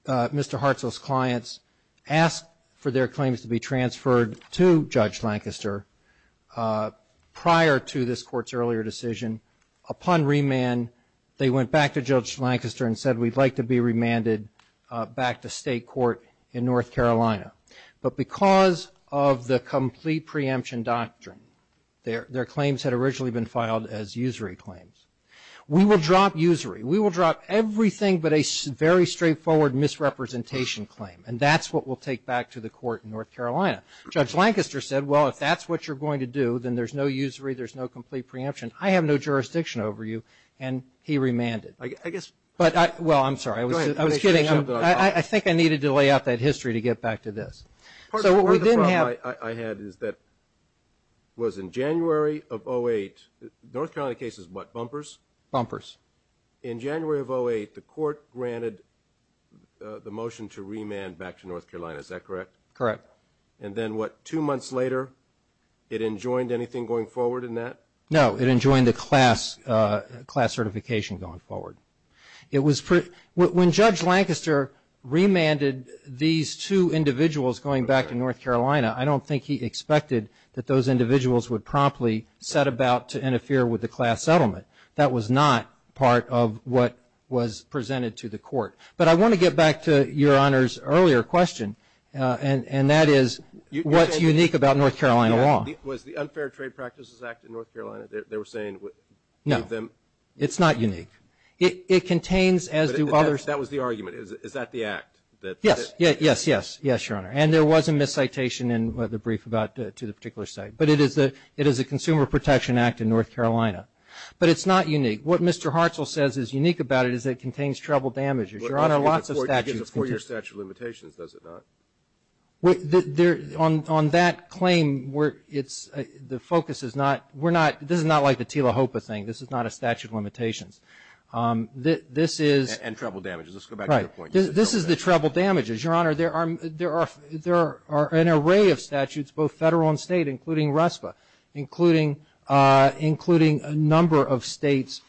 Mr. Hartzell's clients asked for their claims to be transferred to Judge Lancaster prior to this Court's earlier decision, upon remand, they went back to Judge Lancaster and said, we'd like to be remanded back to state court in North Carolina. But because of the complete preemption doctrine, their claims had originally been filed as usury claims. We will drop usury. We will drop everything but a very straightforward misrepresentation claim. And that's what we'll take back to the Court in North Carolina. Judge Lancaster said, well, if that's what you're going to do, then there's no usury. There's no complete preemption. I have no jurisdiction over you. And he remanded. Well, I'm sorry. I think I needed to lay out that history to get back to this. Part of the problem I had is that it was in January of 08. North Carolina case is what, bumpers? Bumpers. In January of 08, the Court granted the motion to remand back to North Carolina. Is that correct? Correct. And then what, two months later, it enjoined anything going forward in that? No, it enjoined the class certification going forward. When Judge Lancaster remanded these two individuals going back to North Carolina, I don't think he expected that those individuals would promptly set about to interfere with the class settlement. That was not part of what was presented to the Court. But I want to get back to Your Honor's earlier question. And that is, what's unique about North Carolina law? Was the Unfair Trade Practices Act in North Carolina? They were saying, No, it's not unique. It contains, as do others. That was the argument. Is that the act? Yes, yes, yes, yes, Your Honor. And there was a miscitation in the brief about, to the particular site. But it is the Consumer Protection Act in North Carolina. But it's not unique. What Mr. Hartzell says is unique about it is that it contains treble damages. Your Honor, lots of statutes. It gives a four-year statute of limitations, does it not? On that claim, we're, it's, the focus is not, we're not, this is not like the Tila Hopa thing. This is not a statute of limitations. This is. And treble damages. Let's go back to your point. This is the treble damages. Your Honor, there are an array of statutes, both federal and state, including RESPA, including a number of states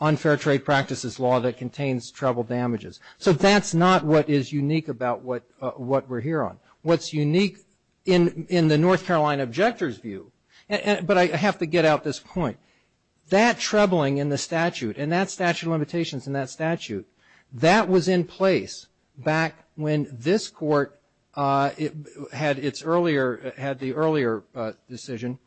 unfair trade practices law that contains treble damages. So that's not what is unique about what we're here on. What's unique in the North Carolina objector's view, but I have to get out this point, that trebling in the statute and that statute of limitations in that statute, that was in place back when this court had its earlier, had the earlier decision.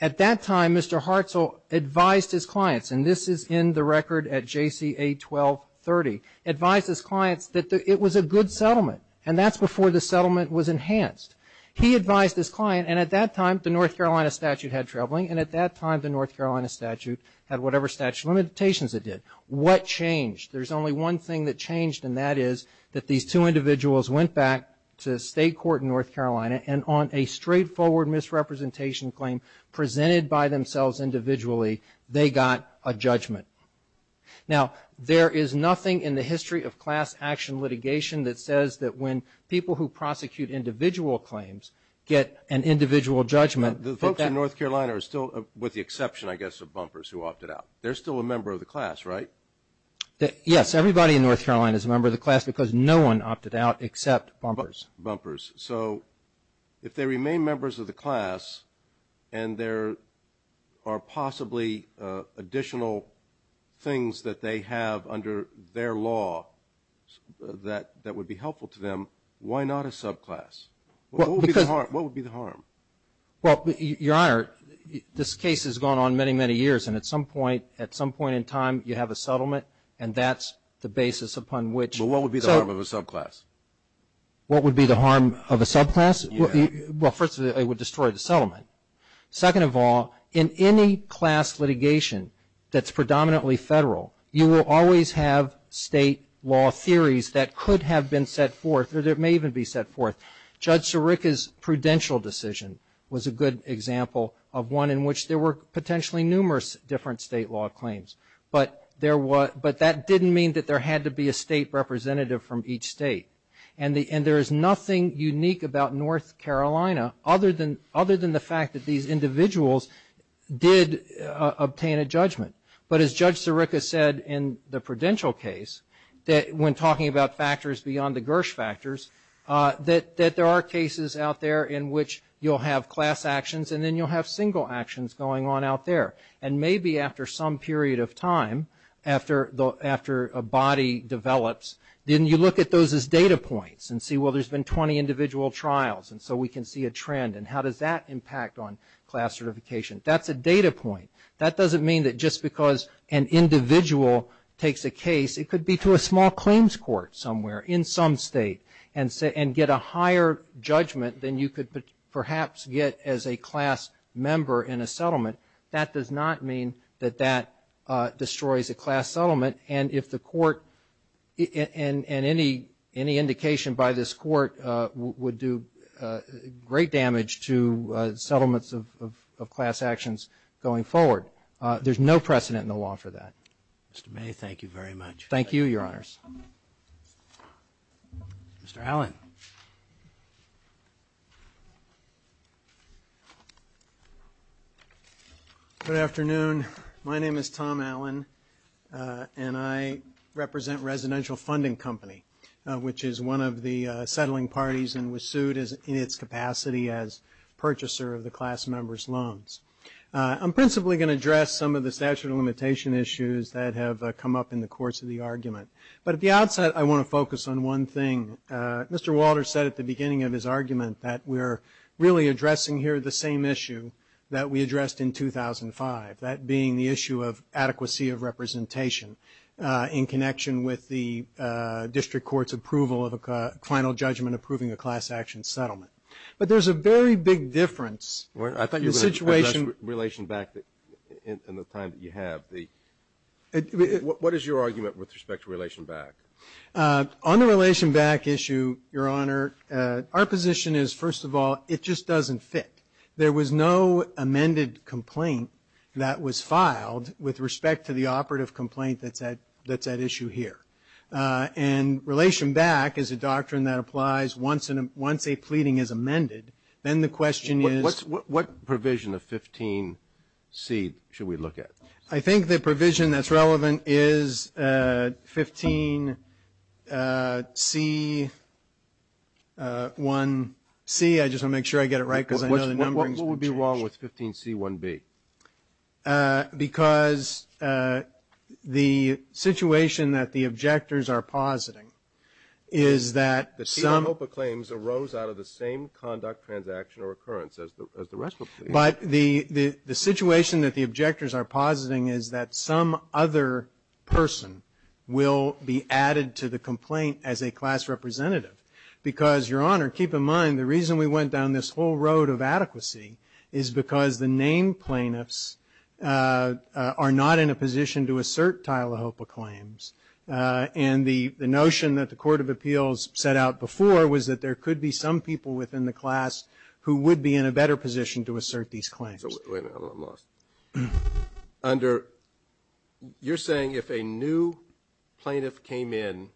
At that time, Mr. Hartzell advised his clients, and this is in the record at JCA 1230, advised his clients that it was a good settlement and that's before the settlement was enhanced. He advised his client, and at that time, the North Carolina statute had trebling, and at that time, the North Carolina statute had whatever statute of limitations it did. What changed? There's only one thing that changed, and that is that these two individuals went back to state court in North Carolina and on a straightforward misrepresentation claim presented by themselves individually, they got a judgment. Now, there is nothing in the history of class action litigation that says that when people who prosecute individual claims get an individual judgment... The folks in North Carolina are still, with the exception, I guess, of bumpers who opted out. They're still a member of the class, right? Yes, everybody in North Carolina is a member of the class because no one opted out except bumpers. Bumpers. So, if they remain members of the class and there are possibly additional things that they have under their law that would be helpful to them, why not a subclass? What would be the harm? Well, Your Honor, this case has gone on many, many years, and at some point, at some point in time, you have a settlement, and that's the basis upon which... What would be the harm of a subclass? What would be the harm of a subclass? Well, first of all, it would destroy the settlement. Second of all, in any class litigation that's predominantly federal, you will always have state law theories that could have been set forth. It may even be set forth. Judge Sirica's prudential decision was a good example of one in which there were potentially numerous different state law claims, but that didn't mean that there had to be a state representative from each state. And there is nothing unique about North Carolina other than the fact that these individuals did obtain a judgment. But as Judge Sirica said in the prudential case, when talking about factors beyond the Gersh factors, that there are cases out there in which you'll have class actions, and then you'll have single actions going on out there. And maybe after some period of time, after a body develops, then you look at those as data points and see, well, there's been 20 individual trials, and so we can see a trend. And how does that impact on class certification? That's a data point. That doesn't mean that just because an individual takes a case, it could be to a small claims court somewhere in some state and get a higher judgment than you could perhaps get as a class member in a settlement. That does not mean that that destroys a class settlement. And if the court, and any indication by this court would do great damage to settlements of class actions going forward. There's no precedent in the law for that. Mr. May, thank you very much. Thank you, Your Honors. Mr. Allen. Good afternoon. My name is Tom Allen, and I represent Residential Funding Company, which is one of the settling parties and was sued in its capacity as purchaser of the class member's loans. I'm principally going to address some of the statute of limitation issues that have come up in the course of the argument. But at the outset, I want to focus on one thing. Mr. Walter said at the beginning of his argument that we're really addressing here the same issue that we addressed in 2005, that being the issue of adequacy of representation in connection with the district court's approval of a final judgment approving a class action settlement. But there's a very big difference. I thought you were going to address relation back in the time that you have. What is your argument with respect to relation back? On the relation back issue, Your Honor, our position is, first of all, it just doesn't fit. There was no amended complaint that was filed with respect to the operative complaint that's at issue here. And relation back is a doctrine that applies once a pleading is amended. Then the question is... What provision of 15C should we look at? I think the provision that's relevant is 15C-1-C. I just want to make sure I get it right because I know the numberings will change. What would be wrong with 15C-1-B? Because the situation that the objectors are positing is that some... The Sina Hopa claims arose out of the same conduct, transaction, or occurrence as the rest of them. But the situation that the objectors are positing is that some other person will be added to the complaint as a class representative. Because, Your Honor, keep in mind, the reason we went down this whole road of adequacy is because the named plaintiffs are not in a position to assert Tila Hopa claims. And the notion that the Court of Appeals set out before was that there could be some people within the class who would be in a better position to assert these claims. So wait a minute, I'm lost. You're saying if a new plaintiff came in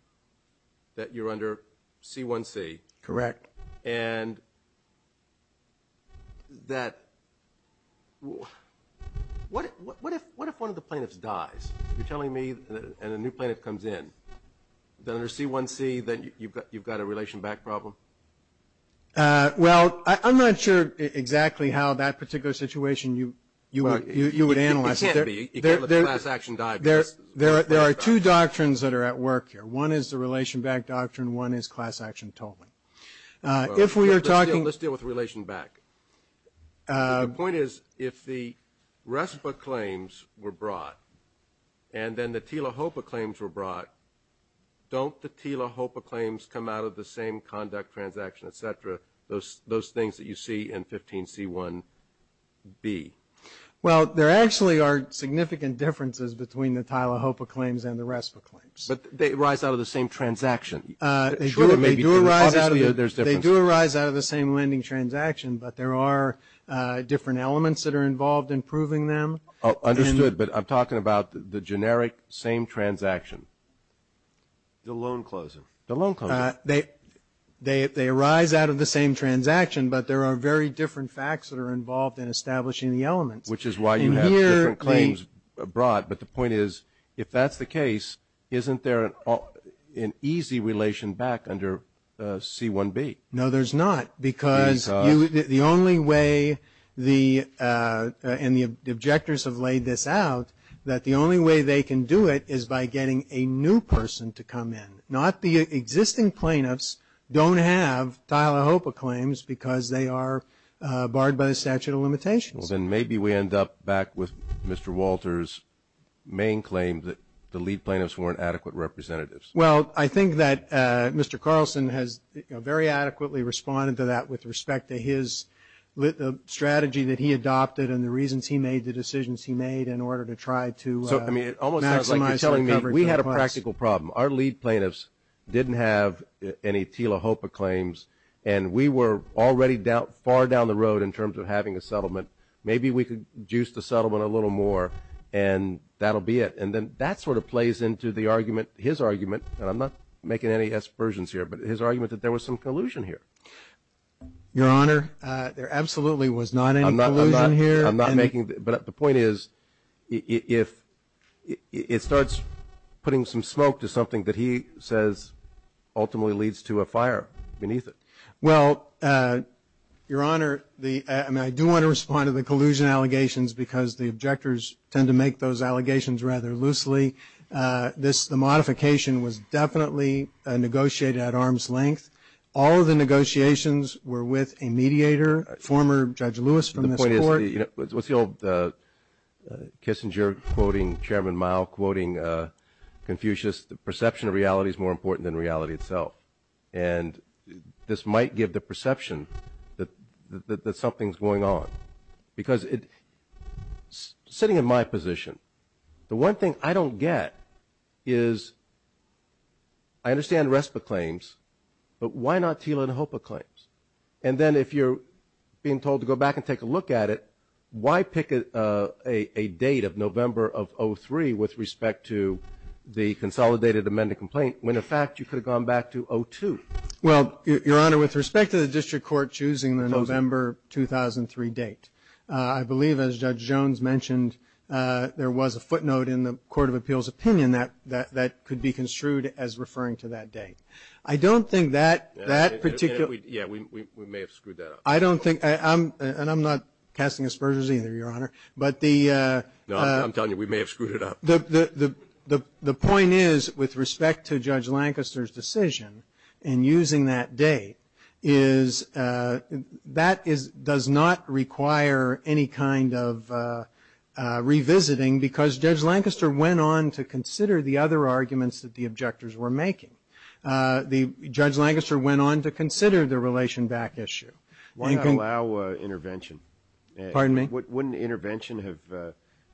that you're under C-1C? Correct. And that... What if one of the plaintiffs dies? You're telling me and a new plaintiff comes in. Then under C-1C, then you've got a relation back problem? Well, I'm not sure exactly how that particular situation you would analyze it. It can't be. You can't let a class action die. There are two doctrines that are at work here. One is the relation back doctrine. One is class action totaling. If we are talking... Let's deal with relation back. The point is, if the RESPA claims were brought and then the Tila Hopa claims were brought, don't the Tila Hopa claims come out of the same conduct, transaction, et cetera, those things that you see in 15C-1B? Well, there actually are significant differences between the Tila Hopa claims and the RESPA claims. But they arise out of the same transaction. They do arise out of the same lending transaction, but there are different elements that are involved in proving them. Understood. But I'm talking about the generic same transaction. The loan closing. The loan closing. They arise out of the same transaction, but there are very different facts that are involved in establishing the elements. Which is why you have different claims brought. But the point is, if that's the case, isn't there an easy relation back under C-1B? No, there's not. Because the only way and the objectors have laid this out, that the only way they can do it is by getting a new person to come in. Not the existing plaintiffs don't have Tila Hopa claims because they are barred by the statute of limitations. Well, then maybe we end up back with Mr. Walter's main claim that the lead plaintiffs weren't adequate representatives. Well, I think that Mr. Carlson has very adequately responded to that with respect to his strategy that he adopted and the reasons he made the decisions he made in order to try to. So, I mean, it almost sounds like you're telling me we had a practical problem. Our lead plaintiffs didn't have any Tila Hopa claims. And we were already far down the road in terms of having a settlement. Maybe we could juice the settlement a little more and that'll be it. And then that sort of plays into the argument, his argument, and I'm not making any aspersions here, but his argument that there was some collusion here. Your Honor, there absolutely was not any collusion here. I'm not making, but the point is, if it starts putting some smoke to something that he says ultimately leads to a fire beneath it. Well, Your Honor, I do want to respond to the collusion allegations because the objectors tend to make those allegations rather loosely. The modification was definitely negotiated at arm's length. All of the negotiations were with a mediator, former Judge Lewis from this court. What's the old Kissinger quoting Chairman Mao, quoting Confucius, the perception of reality is more important than reality itself. And this might give the perception that something's going on because it's sitting in my position. The one thing I don't get is I understand RESPA claims, but why not Tila and HOPA claims? And then if you're being told to go back and take a look at it, why pick a date of November of 03 with respect to the consolidated amended complaint when in fact you could have gone back to 02? Well, Your Honor, with respect to the district court choosing the November 2003 date, I believe, as Judge Jones mentioned, there was a footnote in the Court of Appeals opinion that could be construed as referring to that date. I don't think that that particular. Yeah, we may have screwed that up. I don't think I'm and I'm not casting aspersions either, Your Honor, but the. I'm telling you, we may have screwed it up. The point is, with respect to Judge Lancaster's decision and using that date, is that is does not require any kind of revisiting because Judge Lancaster went on to consider the other arguments that the objectors were making. The Judge Lancaster went on to consider the relation back issue. Why not allow intervention? Pardon me? Wouldn't intervention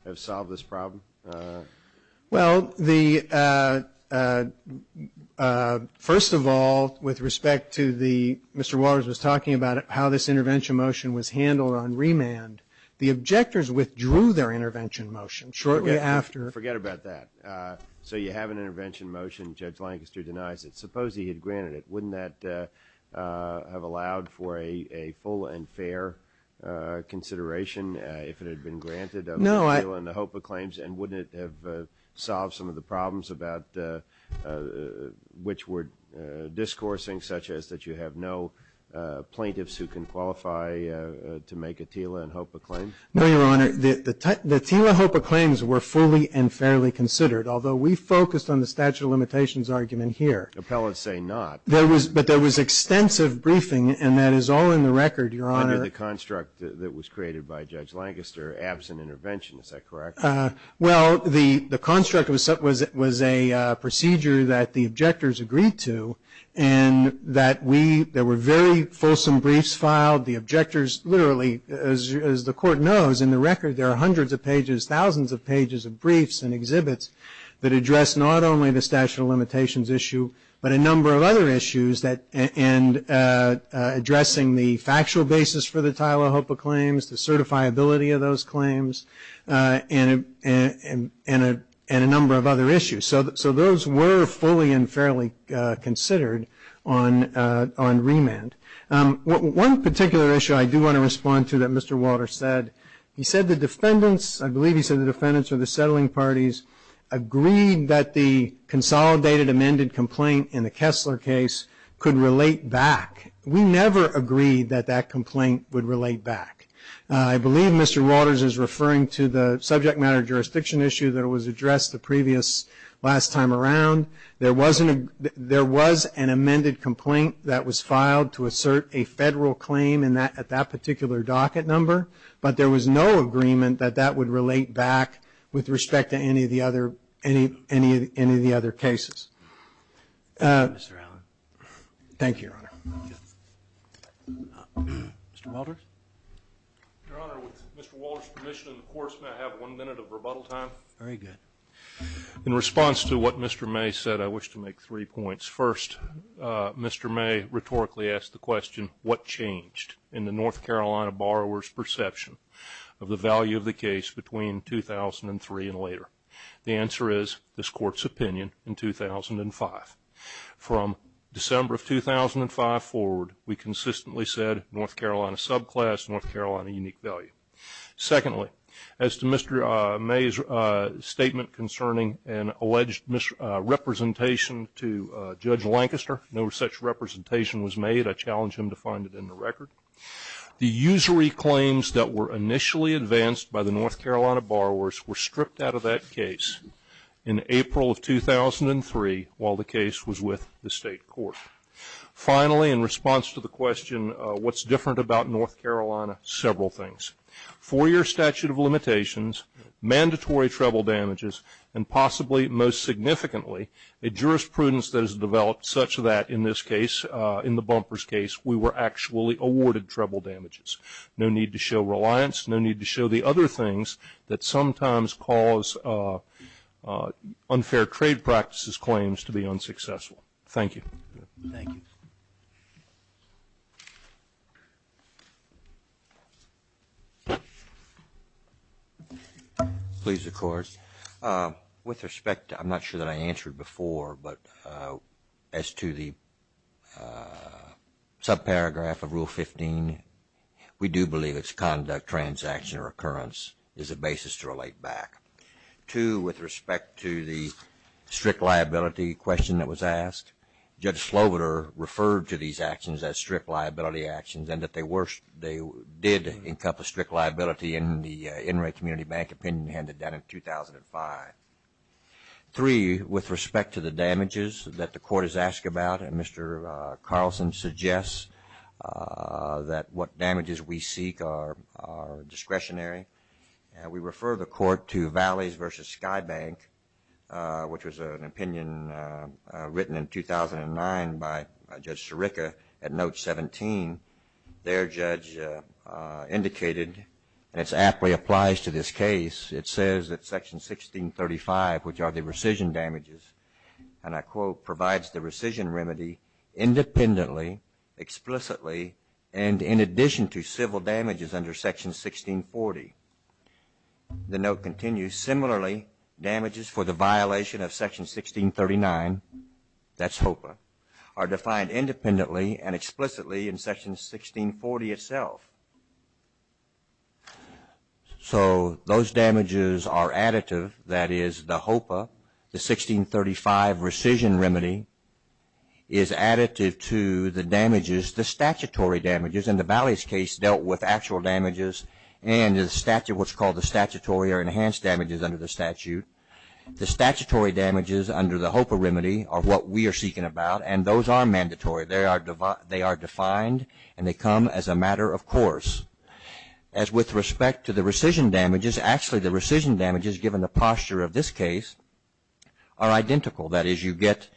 have solved this problem? Well, the. First of all, with respect to the. Mr. Waters was talking about how this intervention motion was handled on remand. The objectors withdrew their intervention motion shortly after. Forget about that. So you have an intervention motion. Judge Lancaster denies it. Suppose he had granted it. Wouldn't that have allowed for a full and fair consideration if it had been granted? No, I. In the hope of claims and wouldn't it have solved some of the problems about the which were discoursing such as that you have no plaintiffs who can qualify to make a Tila and hope of claim? No, Your Honor. The Tila hope of claims were fully and fairly considered, although we focused on the statute of limitations argument here. Appellants say not. There was. But there was extensive briefing and that is all in the record. Your Honor. The construct that was created by Judge Lancaster absent intervention. Is that correct? Well, the construct was it was a procedure that the objectors agreed to and that we there were very fulsome briefs filed. The objectors literally as as the court knows in the record, there are hundreds of pages, thousands of pages of briefs and exhibits that address not only the statute of limitations issue, but a number of other issues that and addressing the factual basis for the Tila hope of claims, the certifiability of those claims and and and and a number of other issues. So those were fully and fairly considered on on remand. One particular issue I do want to respond to that Mr. Walter said he said the defendants, I believe he said the defendants or the settling parties agreed that the consolidated amended complaint in the Kessler case could relate back. We never agreed that that complaint would relate back. I believe Mr. Waters is referring to the subject matter jurisdiction issue that was addressed the previous last time around. There wasn't there was an amended complaint that was filed to assert a federal claim in that at that particular docket number, but there was no agreement that that would relate back with respect to any of the other any any any of the other cases. Thank you, Your Honor. Mr. Walters. Your Honor, with Mr. Walters permission, of course, may I have one minute of rebuttal time? Very good. In response to what Mr. May said, I wish to make three points. First, Mr. May rhetorically asked the question, what changed in the North Carolina borrower's perception of the value of the case between 2003 and later? The answer is this court's opinion in 2005. From December of 2005 forward, we consistently said North Carolina subclass, North Carolina unique value. Secondly, as to Mr. May's statement concerning an alleged representation to Judge Lancaster, no such representation was made. I challenge him to find it in the record. The usury claims that were initially advanced by the North Carolina borrowers were stripped out of that case in April of 2003 while the case was with the state court. Finally, in response to the question, what's different about North Carolina? Several things. Four-year statute of limitations, mandatory treble and possibly most significantly, a jurisprudence that is developed such that in this case, in the bumpers case, we were actually awarded treble damages. No need to show reliance. No need to show the other things that sometimes cause unfair trade practices claims to be unsuccessful. Thank you. Thank you. Please record. With respect, I'm not sure that I answered before, but as to the subparagraph of Rule 15, we do believe it's conduct, transaction or occurrence is a basis to relate back. Two, with respect to the strict liability question that was asked, Judge Sloviter referred to these actions as strict liability actions and that they were, they did encompass strict liability in the Enright Community Bank opinion handed down in 2005. Three, with respect to the damages that the court has asked about, and Mr. Carlson suggests that what damages we seek are discretionary. We refer the court to Valleys versus Sky Bank, which was an opinion written in 2009 by Judge Sirica at note 17. Their judge indicated, and it's aptly applies to this case, it says that Section 1635, which are the rescission damages, and I quote, provides the rescission remedy independently, explicitly, and in addition to civil damages under Section 1640. The note continues, similarly, damages for the violation of Section 1639, that's HOPA, are defined independently and explicitly in Section 1640 itself. So, those damages are additive, that is the HOPA, the 1635 rescission remedy is additive to the damages, the statutory damages, and the Valleys case dealt with actual damages and the statute, what's called the statutory or enhanced damages under the statute. The statutory damages under the HOPA remedy are what we are seeking about, and those are mandatory. They are defined and they come as a matter of court. And of course, as with respect to the rescission damages, actually the rescission damages, given the posture of this case, are identical, that is you get,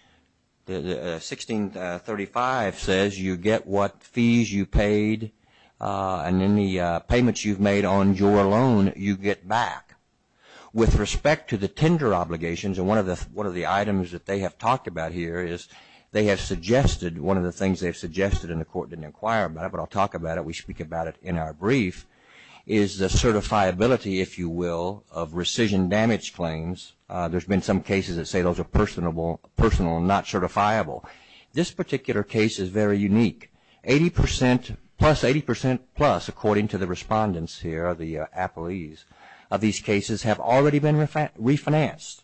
the 1635 says you get what fees you paid and any payments you've made on your loan, you get back. With respect to the tender obligations, and one of the items that they have talked about here is they have suggested, one of the things they've suggested, and the court didn't inquire about it, but I'll talk about it, we speak about it in our brief, is the certifiability, if you will, of rescission damage claims. There's been some cases that say those are personal and not certifiable. This particular case is very unique. 80% plus, 80% plus, according to the respondents here, the appellees of these cases, have already been refinanced.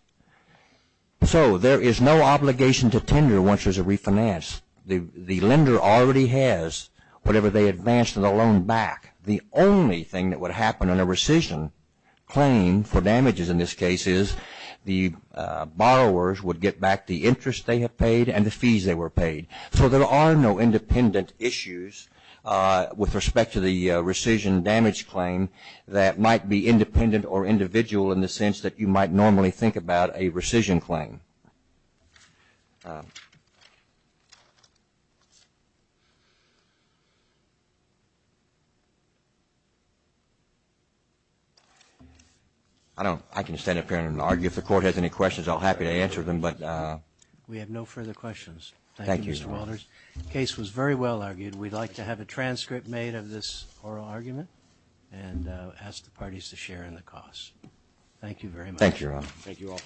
So there is no obligation to tender once there's a refinance. The lender already has whatever they advanced on the loan back. The only thing that would happen on a rescission claim for damages in this case is the borrowers would get back the interest they have paid and the fees they were paid. So there are no independent issues with respect to the rescission damage claim that might be independent or individual in the sense that you might normally think about a rescission claim. I don't, I can stand up here and argue. If the court has any questions, I'll be happy to answer them. But we have no further questions. Thank you, Mr. Walters. The case was very well argued. We'd like to have a transcript made of this oral argument and ask the parties to share in the costs. Thank you very much. Thank you, Ron. Thank you all.